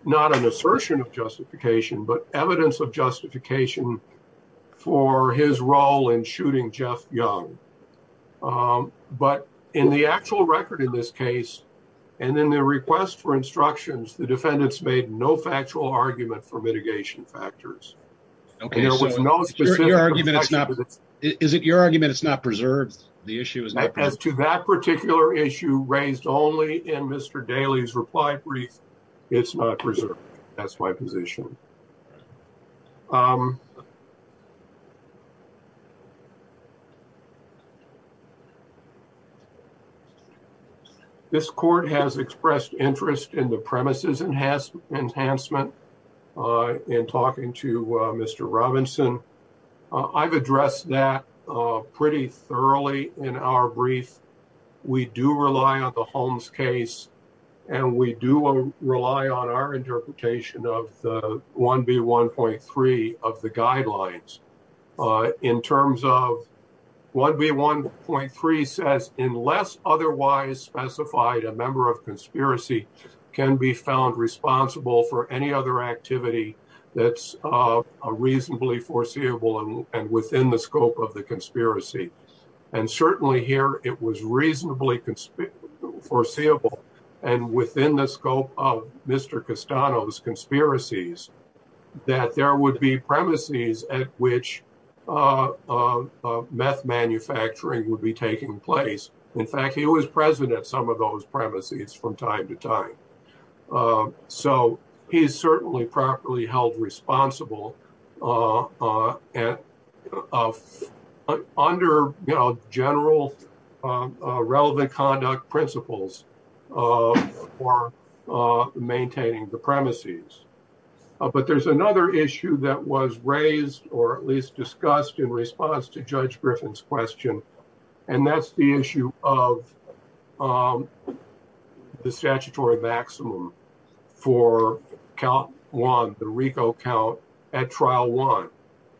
not an assertion of justification, but evidence of justification for his role in shooting Jeff Young. But in the actual record in this case, and in the request for instructions, the defendants made no factual argument for mitigation factors. Okay, so is it your argument it's not preserved? The issue is not preserved? To that particular issue raised only in Mr. Daley's reply brief, it's not preserved. That's my position. This court has expressed interest in the premises enhancement in talking to Mr. Robinson. I've addressed that pretty thoroughly in our brief. We do rely on the Holmes case, and we do rely on our interpretation of the 1B1.3 of the guidelines. In terms of 1B1.3 says, unless otherwise specified, a member of conspiracy can be found responsible for any other activity that's reasonably foreseeable and within the scope of the conspiracy. And certainly here, it was reasonably foreseeable, and within the scope of Mr. Castano's conspiracies, that there would be premises at which meth manufacturing would be taking place. In fact, he was present at some of those so he's certainly properly held responsible under general relevant conduct principles for maintaining the premises. But there's another issue that was raised or at least discussed in response to Judge Griffin's question, and that's the issue of the statutory maximum for count one, the RICO count at trial one.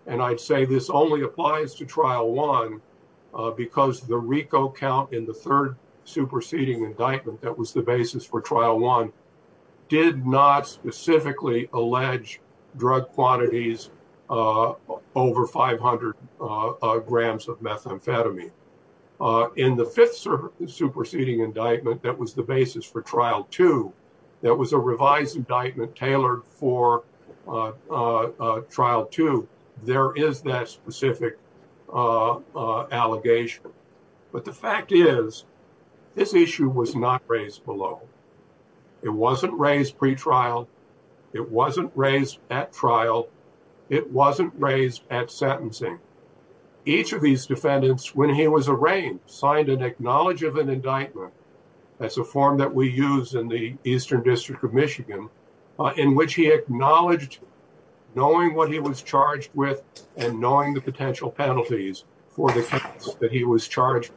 And I'd say this only applies to trial one because the RICO count in the third superseding indictment that was the basis for trial one did not specifically allege drug quantities over 500 grams of methamphetamine. In the fifth superseding indictment, that was the basis for trial two, that was a revised indictment tailored for trial two, there is that specific allegation. But the fact is, this issue was not raised below. It wasn't raised pretrial. It wasn't raised at trial. It wasn't raised at sentencing. Each of these defendants, when he was arraigned, signed an acknowledge of an indictment, that's a form that we use in the Eastern District of Michigan, in which he acknowledged knowing what he was charged with and knowing the potential penalties for the case that he was charged.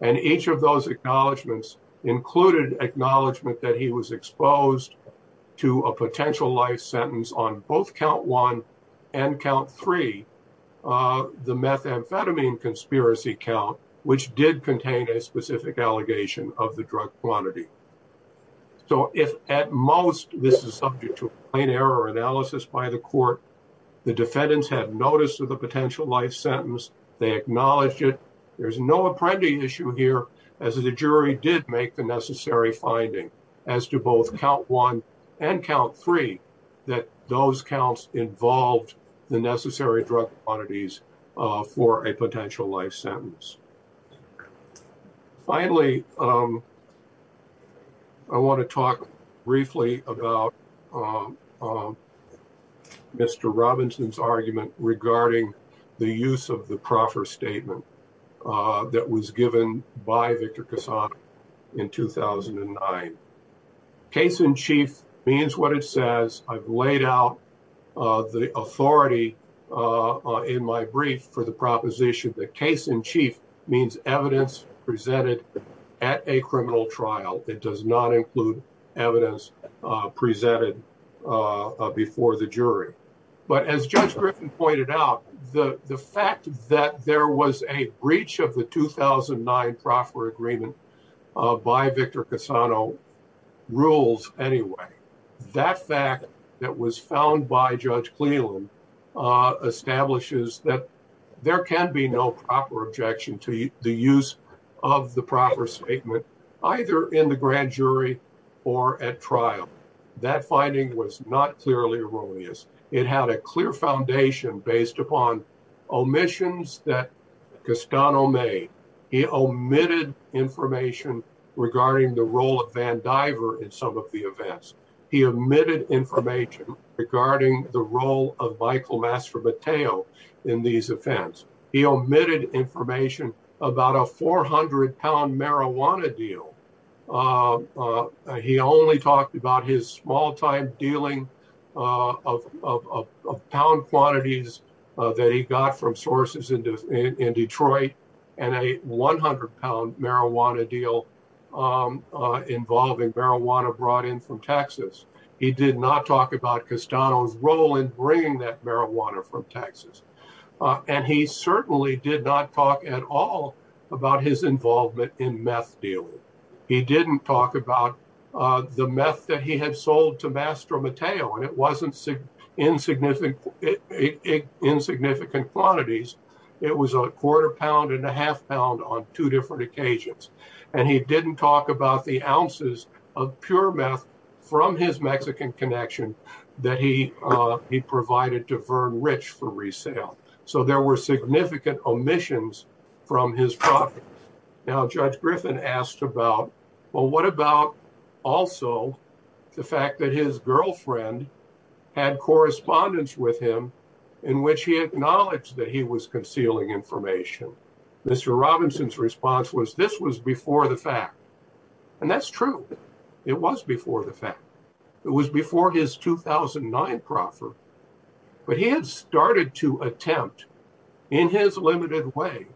And each of those acknowledgements included acknowledgement that he was exposed to a potential life sentence on both count one and count three, the methamphetamine conspiracy count, which did contain a specific allegation of the drug quantity. So if at most this is subject to an error analysis by the court, the defendants have notice of the potential life sentence, they acknowledge it. There's no apprending issue here, as the jury did make a necessary finding as to both count one and count three, that those counts involved the necessary drug quantities for a potential life sentence. Finally, I want to talk briefly about Mr. Robinson's argument regarding the use of the in 2009. Case in chief means what it says. I've laid out the authority in my brief for the proposition that case in chief means evidence presented at a criminal trial. It does not include evidence presented before the jury. But as Judge Griffin pointed out, the fact that there was a proper agreement by Victor Cassano rules anyway. That fact that was found by Judge Cleland establishes that there can be no proper objection to the use of the proper statement, either in the grand jury or at trial. That finding was not clearly erroneous. It had a clear foundation based upon omissions that Cassano made. He omitted information regarding the role of Van Diver in some of the events. He omitted information regarding the role of Michael master Mateo in these events. He omitted information about a 400 pound marijuana deal. He only talked about his small time dealing of pound quantities that he got from sources in Detroit and a 100 pound marijuana deal involving marijuana brought in from Texas. He did not talk about Cassano's role in bringing that marijuana from Texas. And he certainly did not talk at all about his involvement in meth deal. He didn't talk about the meth that he had sold to master Mateo. It wasn't insignificant quantities. It was a quarter pound and a half pound on two different occasions. And he didn't talk about the ounces of pure meth from his Mexican connection that he provided to Vern Rich for resale. So there were significant omissions from his profit. Now, Judge Griffin asked about, well, what about also the fact that his girlfriend had correspondence with him in which he acknowledged that he was concealing information? Mr. Robinson's response was this was before the fact. And that's true. It was before the fact. It was before his 2009 proffer. But he had started to attempt in his limited way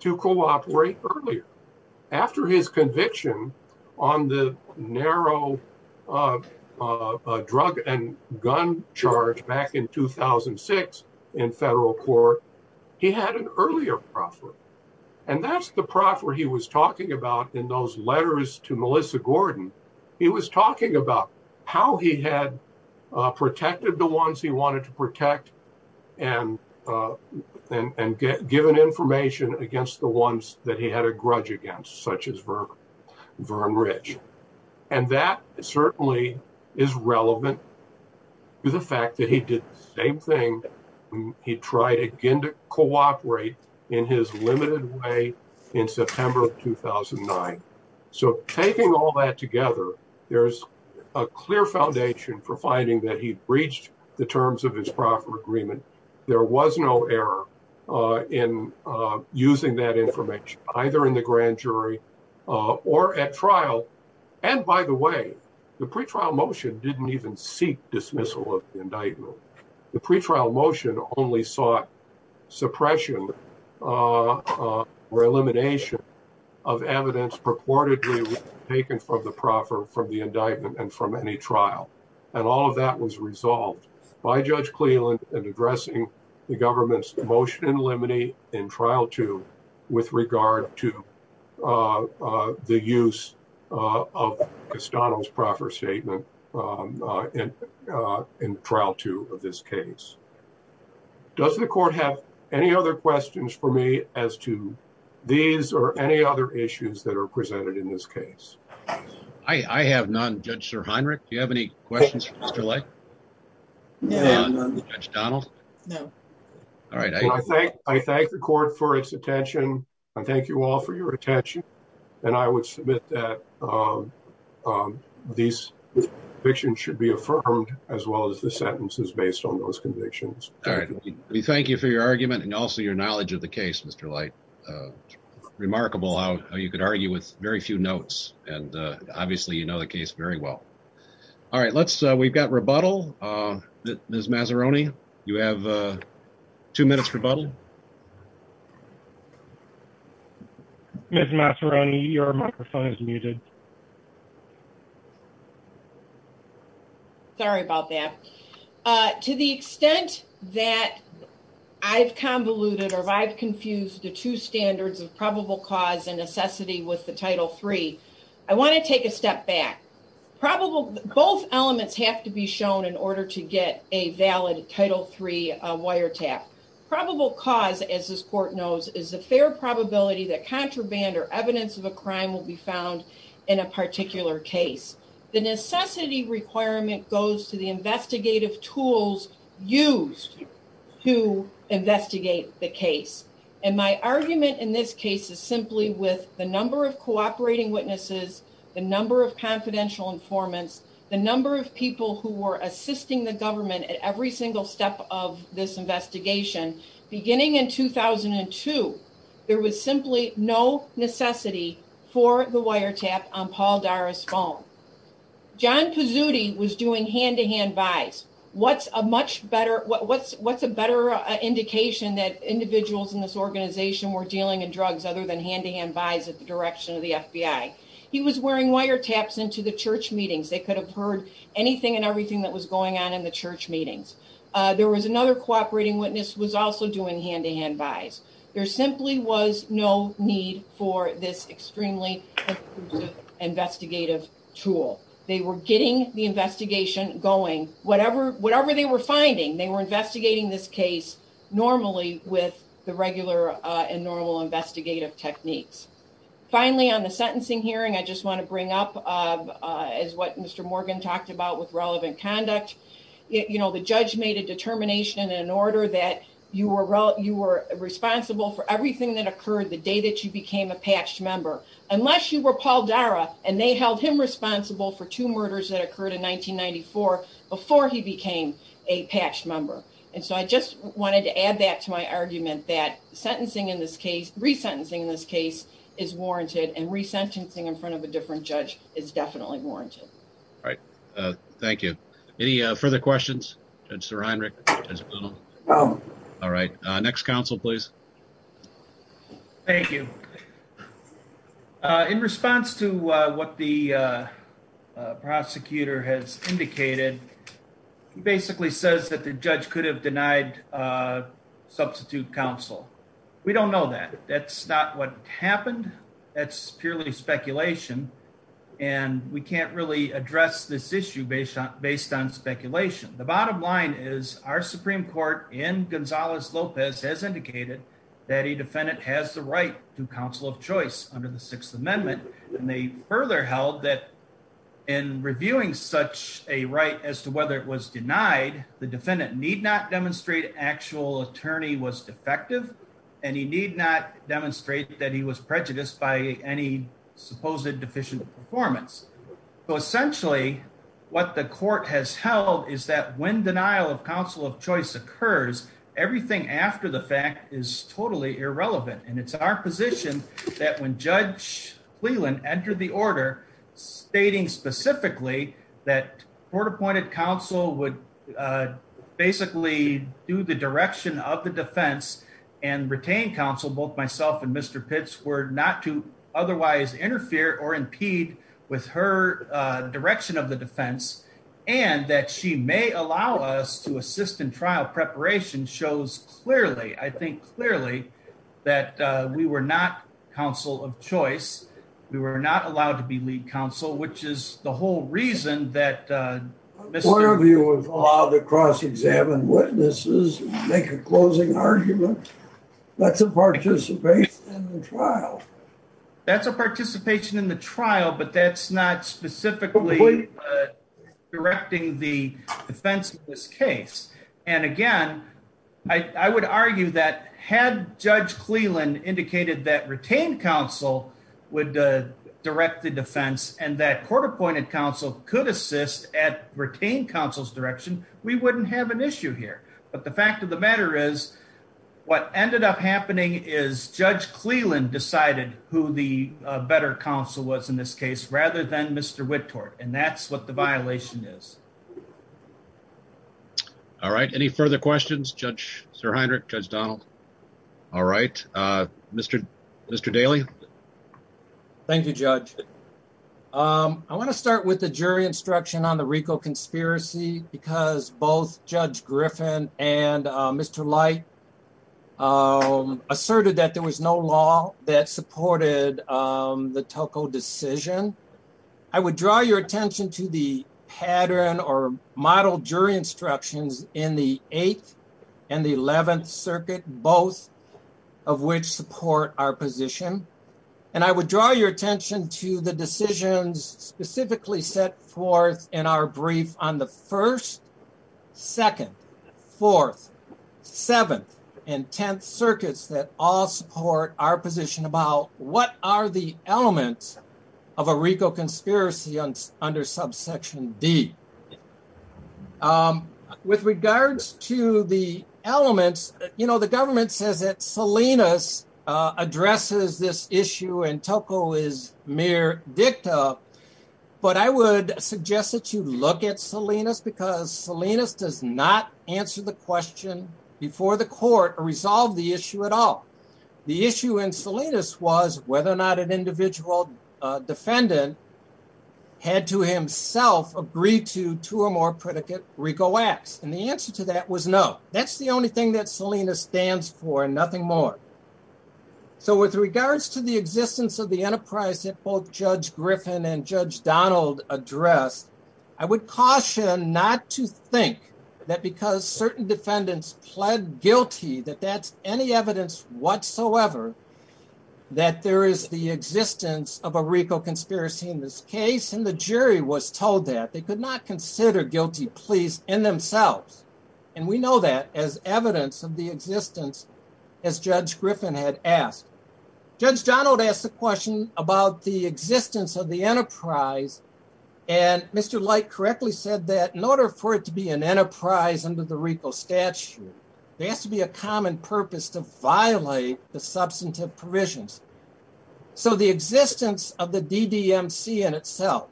to cooperate earlier. After his conviction on the narrow drug and gun charge back in 2006 in federal court, he had an earlier proffer. And that's the proffer he was talking about in those about how he had protected the ones he wanted to protect and given information against the ones that he had a grudge against, such as Vern Rich. And that certainly is relevant to the fact that he did the same thing. He tried again to cooperate in his limited way in September of 2009. So taking all that together, there's a clear foundation for finding that he breached the terms of his proffer agreement. There was no error in using that information, either in the grand jury or at trial. And by the way, the pretrial motion didn't even seek dismissal of indictment. The pretrial motion only sought suppression or elimination of evidence purportedly taken from the proffer, from the indictment, and from any trial. And all of that was resolved by Judge Cleland in addressing the government's motion in limine in trial two with regard to the use of McDonnell's proffer statement in trial two of this case. Does the court have any other questions for me as to these or any other issues that are presented in this case? I have none, Judge Sir Heinrich. Do you have any questions for Mr. Lake? No. All right. I thank the court for its attention. I thank you all for your attention. And I would submit that these convictions should be affirmed as well as the sentences based on those convictions. All right. We thank you for your argument and also your knowledge of the case, Mr. Lake. Remarkable how you could argue with very few notes. And obviously you know the case very well. All right. Let's, we've got rebuttal. Ms. Mazzaroni, you have two minutes rebuttal. Ms. Mazzaroni, your microphone is muted. Sorry about that. To the extent that I've convoluted or I've confused the two standards of probable cause and necessity with the Title III, I want to take a step back. Probable, both elements have to be shown in order to get a valid Title III wiretap. Probable cause, as this court knows, is the fair probability that contraband or evidence of a crime will be found in a particular case. The necessity requirement goes to the investigative tools used to investigate the case. And my argument in this case is simply with the number of cooperating witnesses, the number of confidential informants, the number of people who were assisting the government at every single step of this investigation. Beginning in 2002, there was simply no necessity for the wiretap on Paul Dara's phone. John Pizzutti was doing hand-to-hand buys. What's a much better, what's a better indication that individuals in this organization were dealing in drugs other than hand-to-hand buys at the direction of the FBI? He was wearing wiretaps into the church meetings. They could have heard anything and everything that was going on in the church meetings. There was another cooperating witness who was also doing hand-to-hand buys. There simply was no need for this extremely investigative tool. They were getting the investigation going. Whatever they were finding, they were investigating this case normally with the regular and normal investigative techniques. Finally, on the sentencing hearing, I just want to bring up as what Mr. Morgan talked about with relevant conduct. The judge made a determination in order that you were responsible for everything that occurred the day that you became a patched member, unless you were Paul Dara and they held him responsible for two murders that occurred in 1994 before he became a patched member. I just wanted to add that to my argument that sentencing in this case, re-sentencing in this case, is warranted and re-sentencing in front of a different judge is definitely warranted. All right. Thank you. Any further questions? All right. Next counsel, please. Thank you. In response to what the prosecutor has indicated, he basically says that the judge could have denied substitute counsel. We don't know that. That's not what he said. We can't really address this issue based on speculation. The bottom line is our Supreme Court in Gonzalez-Lopez has indicated that a defendant has the right to counsel of choice under the Sixth Amendment. They further held that in reviewing such a right as to whether it was denied, the defendant need not demonstrate actual attorney was defective and he need not that he was prejudiced by any supposed deficient performance. Essentially, what the court has held is that when denial of counsel of choice occurs, everything after the fact is totally irrelevant. It's our position that when Judge Cleland entered the order stating specifically that court appointed counsel would basically do the direction of the defense and retain counsel, both myself and Mr. Pitts were not to otherwise interfere or impede with her direction of the defense and that she may allow us to assist in trial preparation shows clearly, I think clearly, that we were not counsel of choice. We were not allowed to be lead counsel, which is the whole reason that... One of you was allowed to cross-examine witnesses, make a closing argument. That's a participation in the trial. That's a participation in the trial, but that's not specifically directing the defense of this case. And again, I would argue that had Judge Cleland indicated that retained counsel would direct the defense and that court appointed counsel could assist at retained counsel's have an issue here. But the fact of the matter is what ended up happening is Judge Cleland decided who the better counsel was in this case, rather than Mr. Whitworth. And that's what the violation is. All right. Any further questions, Judge SirHeinrich, Judge Donald? All right. Mr. Daly. Thank you, Judge. I want to start with the jury instruction on the RICO conspiracy because both Judge Griffin and Mr. Light asserted that there was no law that supported the Tuckle decision. I would draw your attention to the pattern or model jury instructions in the 8th and the 11th circuit, both of which support our position. And I would draw your attention to the decisions specifically set forth in our brief on the 1st, 2nd, 4th, 7th, and 10th circuits that all support our position about what are the elements of a RICO conspiracy under subsection D. With regards to the elements, you know, the government says that Salinas addresses this mere dicta, but I would suggest that you look at Salinas because Salinas does not answer the question before the court or resolve the issue at all. The issue in Salinas was whether or not an individual defendant had to himself agree to two or more predicate RICO acts. And the answer to that was no. That's the only thing that Salinas stands for and nothing more. So with regards to the existence of the enterprise that both Judge Griffin and Judge Donald addressed, I would caution not to think that because certain defendants pled guilty that that's any evidence whatsoever that there is the existence of a RICO conspiracy in this case. And the jury was told that. They could not consider guilty pleas in themselves. And we know that as evidence of the existence as Judge Griffin had asked. Judge Donald asked the question about the existence of the enterprise and Mr. Light correctly said that in order for it to be an enterprise under the RICO statute, there has to be a common purpose to violate the substantive provisions. So the existence of the DDMC in itself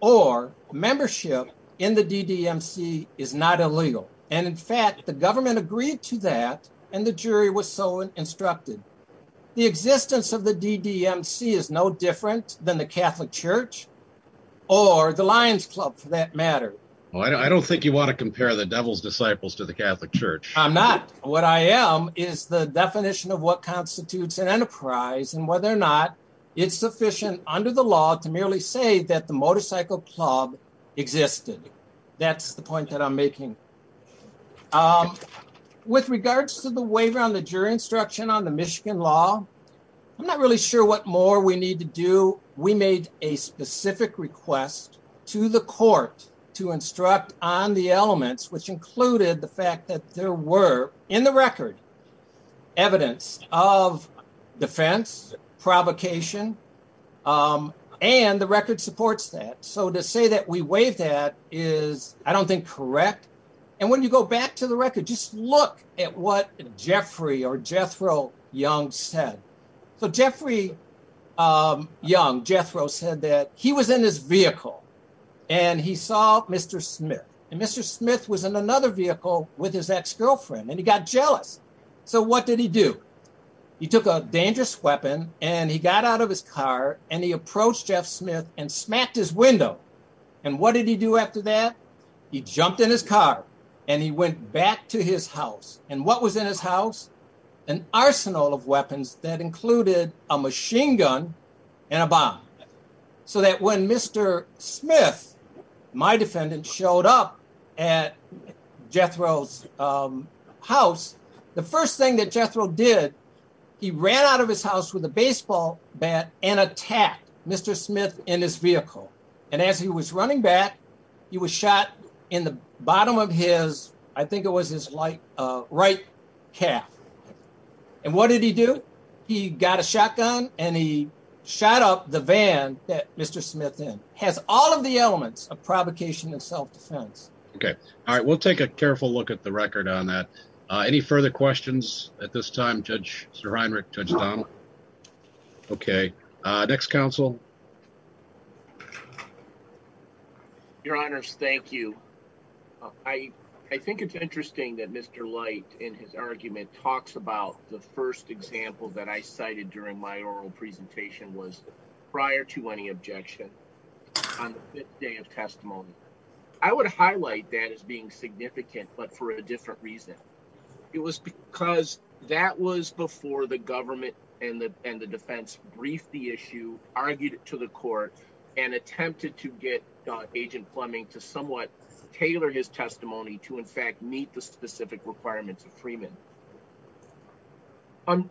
or membership in the DDMC is not illegal. And in fact, the government agreed to that and the jury was so instructed. The existence of the DDMC is no different than the Catholic Church or the Lions Club for that matter. Well, I don't think you want to compare the devil's disciples to the Catholic Church. I'm not. What I am is the definition of what constitutes an enterprise and whether or not it's sufficient under the law to merely say that the motorcycle club existed. That's the point that I'm making. With regards to the waiver on the jury instruction on the Michigan law, I'm not really sure what more we need to do. We made a specific request to the court to instruct on the elements, which included the fact that there were in the record evidence of defense, provocation, and the record supports that. So to say that we waived that is, I don't think, correct. And when you go back to the record, just look at what Jeffrey or Jethro Young said. So Jeffrey Young, Jethro, said that he was in his vehicle and he saw Mr. Smith. And Mr. So what did he do? He took a dangerous weapon and he got out of his car and he approached Jeff Smith and smacked his window. And what did he do after that? He jumped in his car and he went back to his house. And what was in his house? An arsenal of weapons that included a machine gun and a bomb. So that when Mr. Smith, my defendant, showed up at Jethro's house, the first thing that Jethro did, he ran out of his house with a baseball bat and attacked Mr. Smith in his vehicle. And as he was running back, he was shot in the bottom of his, I think it was his right calf. And what did he do? He got a shotgun and he shot up the van that Mr. Smith in. Has all of the elements of provocation and self-defense. Okay. All right. We'll take a careful look at the record on that. Any further questions at this time, Judge Sir Heinrich, Judge Donald? Okay. Next counsel. Your honors, thank you. I think it's interesting that Mr. talks about the first example that I cited during my oral presentation was prior to any objection on the fifth day of testimony. I would highlight that as being significant, but for a different reason. It was because that was before the government and the defense briefed the issue, argued it to the court and attempted to get agent Fleming to somewhat tailor his defense.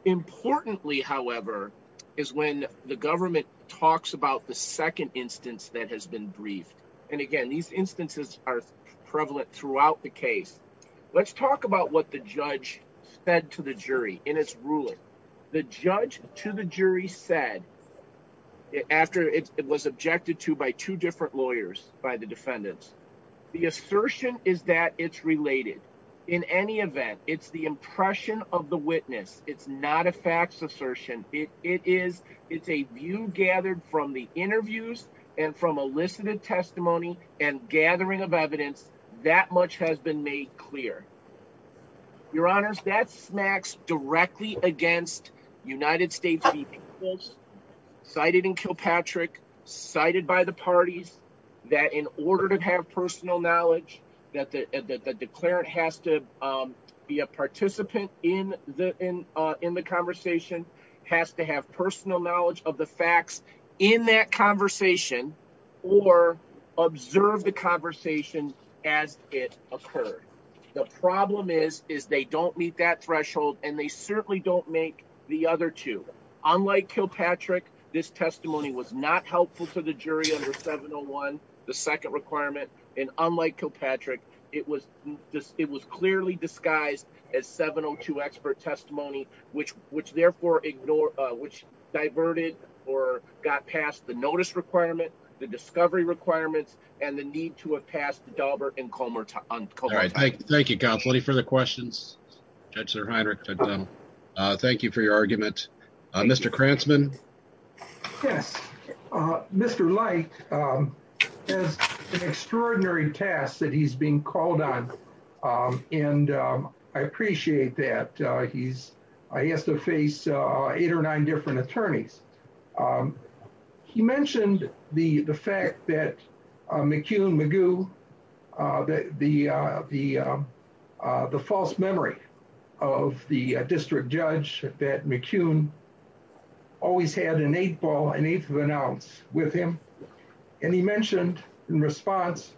Importantly, however, is when the government talks about the second instance that has been briefed. And again, these instances are prevalent throughout the case. Let's talk about what the judge said to the jury in its ruling. The judge to the jury said after it was objected to by two different lawyers by the defendants, the assertion is that it's related. In any event, it's the impression of the witness. It's not a facts assertion. It is, it's a view gathered from the interviews and from elicited testimony and gathering of evidence that much has been made clear. Your honors, that smacks directly against United States people cited in Kilpatrick, cited by the parties that in order to have personal knowledge that the declarant has to be a participant in the conversation, has to have personal knowledge of the facts in that conversation or observe the conversation as it occurred. The problem is, is they don't meet that threshold and they certainly don't make the other two. Unlike Kilpatrick, this testimony was not helpful to the jury under 701, the second requirement. And unlike Kilpatrick, it was this, it was clearly disguised as 702 expert testimony, which, which therefore ignore, uh, which diverted or got past the notice requirement, the discovery requirements, and the need to have passed the Dalbert and Comer. Thank you for the questions. Thank you for your argument, Mr. Krantzman. Yes. Uh, Mr. Light, um, has an extraordinary task that he's being called on. Um, and, um, I appreciate that. Uh, he's, I have to face, uh, eight or nine different attorneys. Um, he mentioned the, the fact that, uh, McCune Magoo, uh, that the, uh, the, um, uh, the false memory of the district judge that McCune always had an eight ball, an eighth of an ounce with him. And he mentioned in response,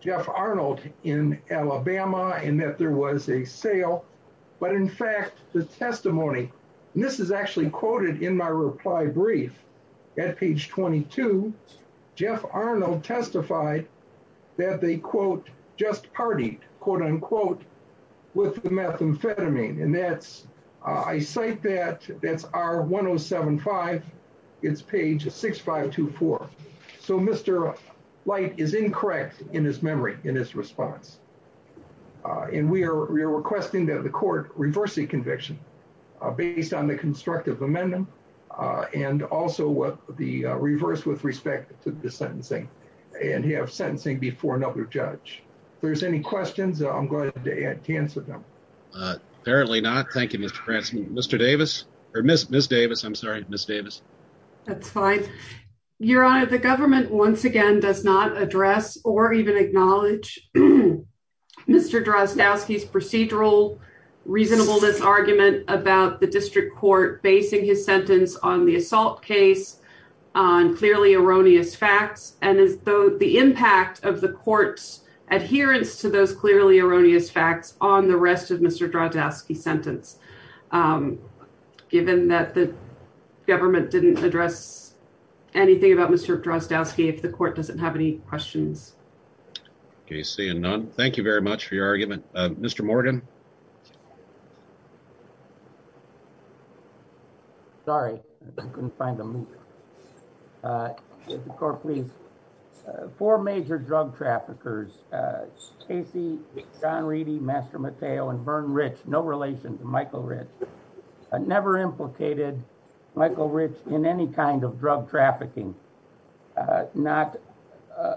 Jeff Arnold in Alabama, and that there was a sale, but in fact, the testimony, and this is actually quoted in my reply brief at page 22, Jeff Arnold testified that they quote, just party quote unquote with the methamphetamine. And that's, uh, I cite that that's our one Oh seven five it's page six, five, two, four. So Mr. Light is incorrect in his memory in his response. Uh, and we are, we are requesting that the court reverse the conviction, uh, based on the constructive amendment, uh, and also what the reverse with respect to the sentencing and have sentencing before another judge. If there's any questions, I'm going to answer them. Uh, apparently not. Thank you, Mr. Davis or Ms. Davis. I'm sorry, Ms. Davis. That's fine. Your honor, the government once again, does not address or even acknowledge Mr. Drozdowski's procedural reasonableness argument about the district court, basing his sentence on the assault case on clearly erroneous facts. And as though the impact of the court's adherence to those clearly erroneous facts on the rest of Mr. Drozdowski sentence, um, given that the government didn't address anything about Mr. Drozdowski, if the court doesn't have any questions, Can you see him now? Thank you very much for your argument. Uh, Mr. Morgan. Sorry, I couldn't find him. Uh, the court please, uh, four major drug traffickers, uh, Stacey, Don Reedy, Master Mateo, and Vern Rich, no relation to Michael Rich. I never implicated Michael Rich in any kind of drug trafficking, uh, not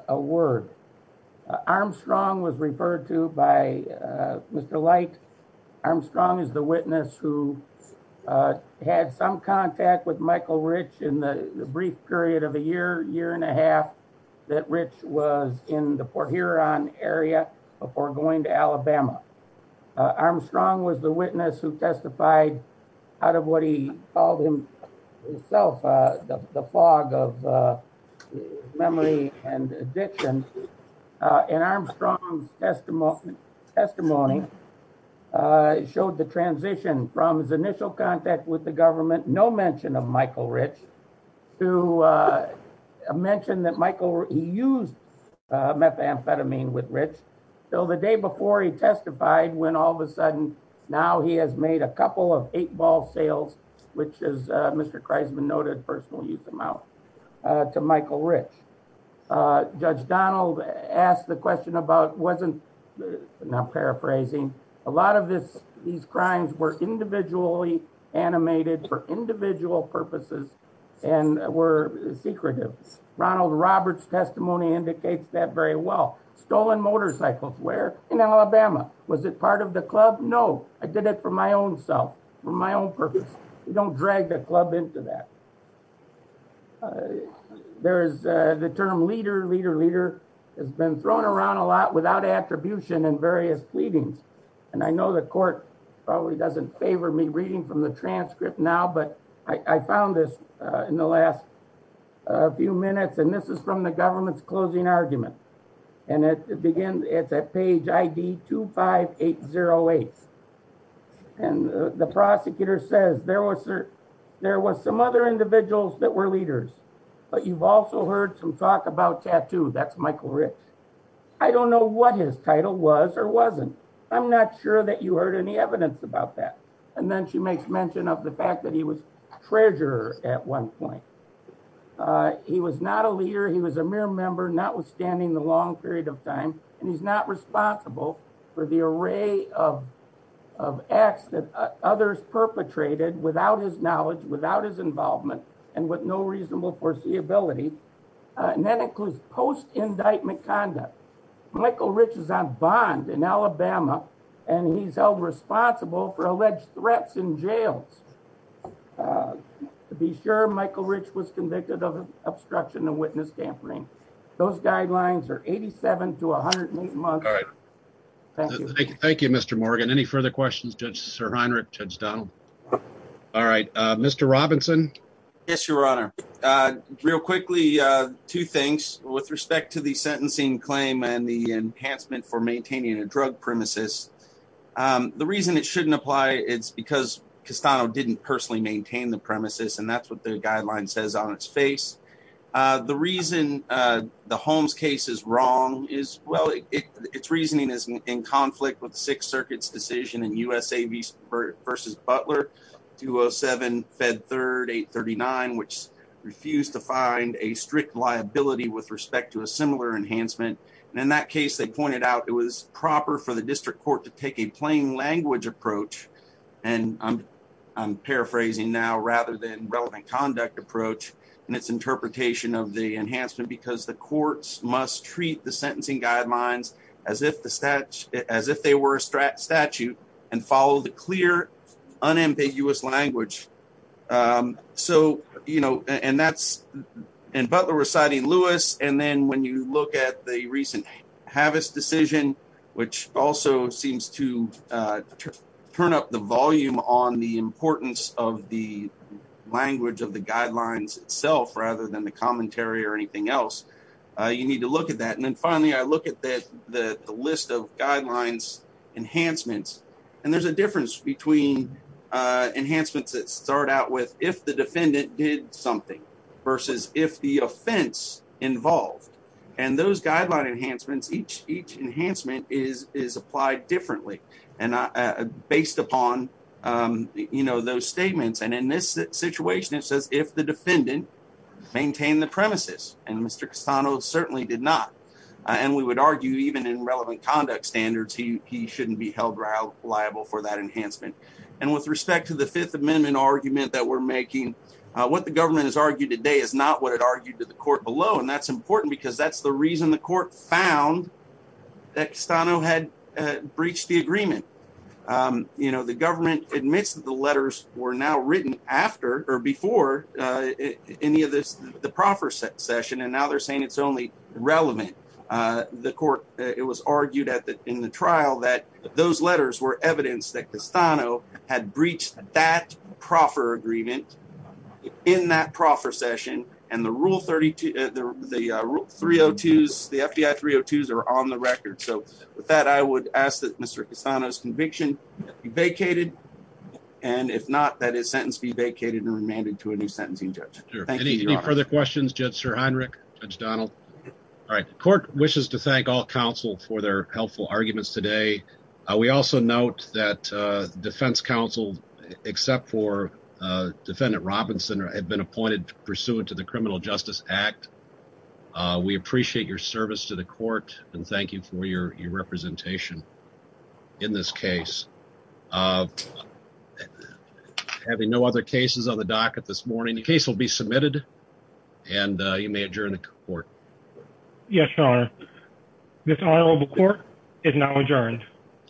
a word. Armstrong was referred to by, uh, Mr. Light. Armstrong is the witness who, uh, had some contact with Michael Rich in the brief period of a year, year and a half that Rich was in the Fort Huron area before going to Alabama. Armstrong was the witness who testified out of what he called himself, uh, the fog of, uh, memory and addiction. Uh, and Armstrong testimony, testimony, uh, showed the transition from his initial contact with the government, no mention of Michael Rich to, uh, mention that he used, uh, methamphetamine with Rich. So the day before he testified, when all of a sudden, now he has made a couple of eight ball sales, which is, uh, Mr. Christman noted personal use amount, uh, to Michael Rich, uh, judge Donald asked the question about wasn't not paraphrasing a lot of this. These crimes were individually animated for individual purposes and were secretive. Ronald Roberts testimony indicates that very well stolen motorcycles were in Alabama. Was it part of the club? No, I did it for my own self, for my own purpose. Don't drag the club into that. Uh, there's, uh, the term leader, leader, leader has been thrown around a lot without attribution and various fleeting. And I know the court probably doesn't favor me reading from the transcript now, but I found this, uh, in the last few minutes. And this is from the government's closing argument. And it begins at that page ID two five eight zero eight. And the prosecutor says there was, there was some other individuals that were leaders, but you've also heard some talk about tattoos. That's Michael Rich. I don't know what his title was or wasn't. I'm not sure that you heard any evidence about that. And then she makes mention of the fact that he was treasurer at one point. Uh, he was not a leader. He was a mere member, not withstanding the long period of time. And he's not responsible for the array of, of acts that others perpetrated without his knowledge, without his involvement and with no reasonable foreseeability. Uh, and that includes post indictment conduct. Michael Rich is on bond in Alabama and he's held responsible for alleged threats in jail. Uh, to be sure Michael Rich was convicted of obstruction of witness dampening. Those guidelines are 87 to 108 months. Thank you. Thank you, Mr. Morgan. Any further questions? Judge sir. Honor it. Judge Mr. Robinson. Yes, your Honor. Uh, real quickly, uh, two things with respect to the sentencing claim and the enhancement for maintaining a drug premises. Um, the reason it shouldn't apply it's because Castano didn't personally maintain the premises and that's what the guideline says on its face. Uh, the reason, uh, the Holmes case is wrong is well, it it's reasoning is in conflict with six circuits decision in USA versus Butler 207 fed third eight 39, which refused to find a strict liability with respect to a similar enhancement. And in that case, they pointed out it was proper for the district court to take a plain language approach. And I'm, I'm paraphrasing now rather than relevant conduct approach and its interpretation of the enhancement because the courts must treat the sentencing guidelines as if the stats as if they were statute and follow the clear unambiguous language. Um, so, you know, and that's in Butler reciting Lewis. And then when you look at the recent habits decision, which also seems to, uh, turn up the volume on the importance of the language of the guidelines itself rather than the commentary or anything else, uh, you need to look at that. And then finally, I look at the, the list of guidelines enhancements, and there's a difference between, uh, enhancements that start out with, if the defendant did something versus if the offense involved and those guideline enhancements, each, each enhancement is, is applied differently. And, uh, based upon, um, you know, those premises, and Mr. Cassano certainly did not. And we would argue even in relevant conduct standards, he, he shouldn't be held liable for that enhancement. And with respect to the Fifth Amendment argument that we're making, uh, what the government has argued today is not what it argued to the court below. And that's important because that's the reason the court found that Cassano had breached the agreement. Um, you know, the government admits that the letters were now written after or before, uh, any of this, the proffer session. And now they're saying it's only relevant. Uh, the court, it was argued at the, in the trial that those letters were evidence that Cassano had breached that proffer agreement in that proffer session. And the Rule 32, uh, the, uh, Rule 302s, the FDI 302s are on the record. So with that, I would ask that Mr. Cassano's conviction be vacated. And if not, that his sentence be vacated and remanded to a new sentencing judge. Any further questions, Judge Sir Heinrich, Judge Donald? All right. The court wishes to thank all counsel for their helpful arguments today. We also note that, uh, defense counsel, except for, uh, defendant Robinson had been appointed pursuant to the criminal justice act. Uh, we appreciate your service to the court and thank you for your representation in this case. Uh, having no other cases on the docket this morning, the case will be submitted and, uh, you may adjourn the court. Yes, Your Honor. This trial of the court is now adjourned.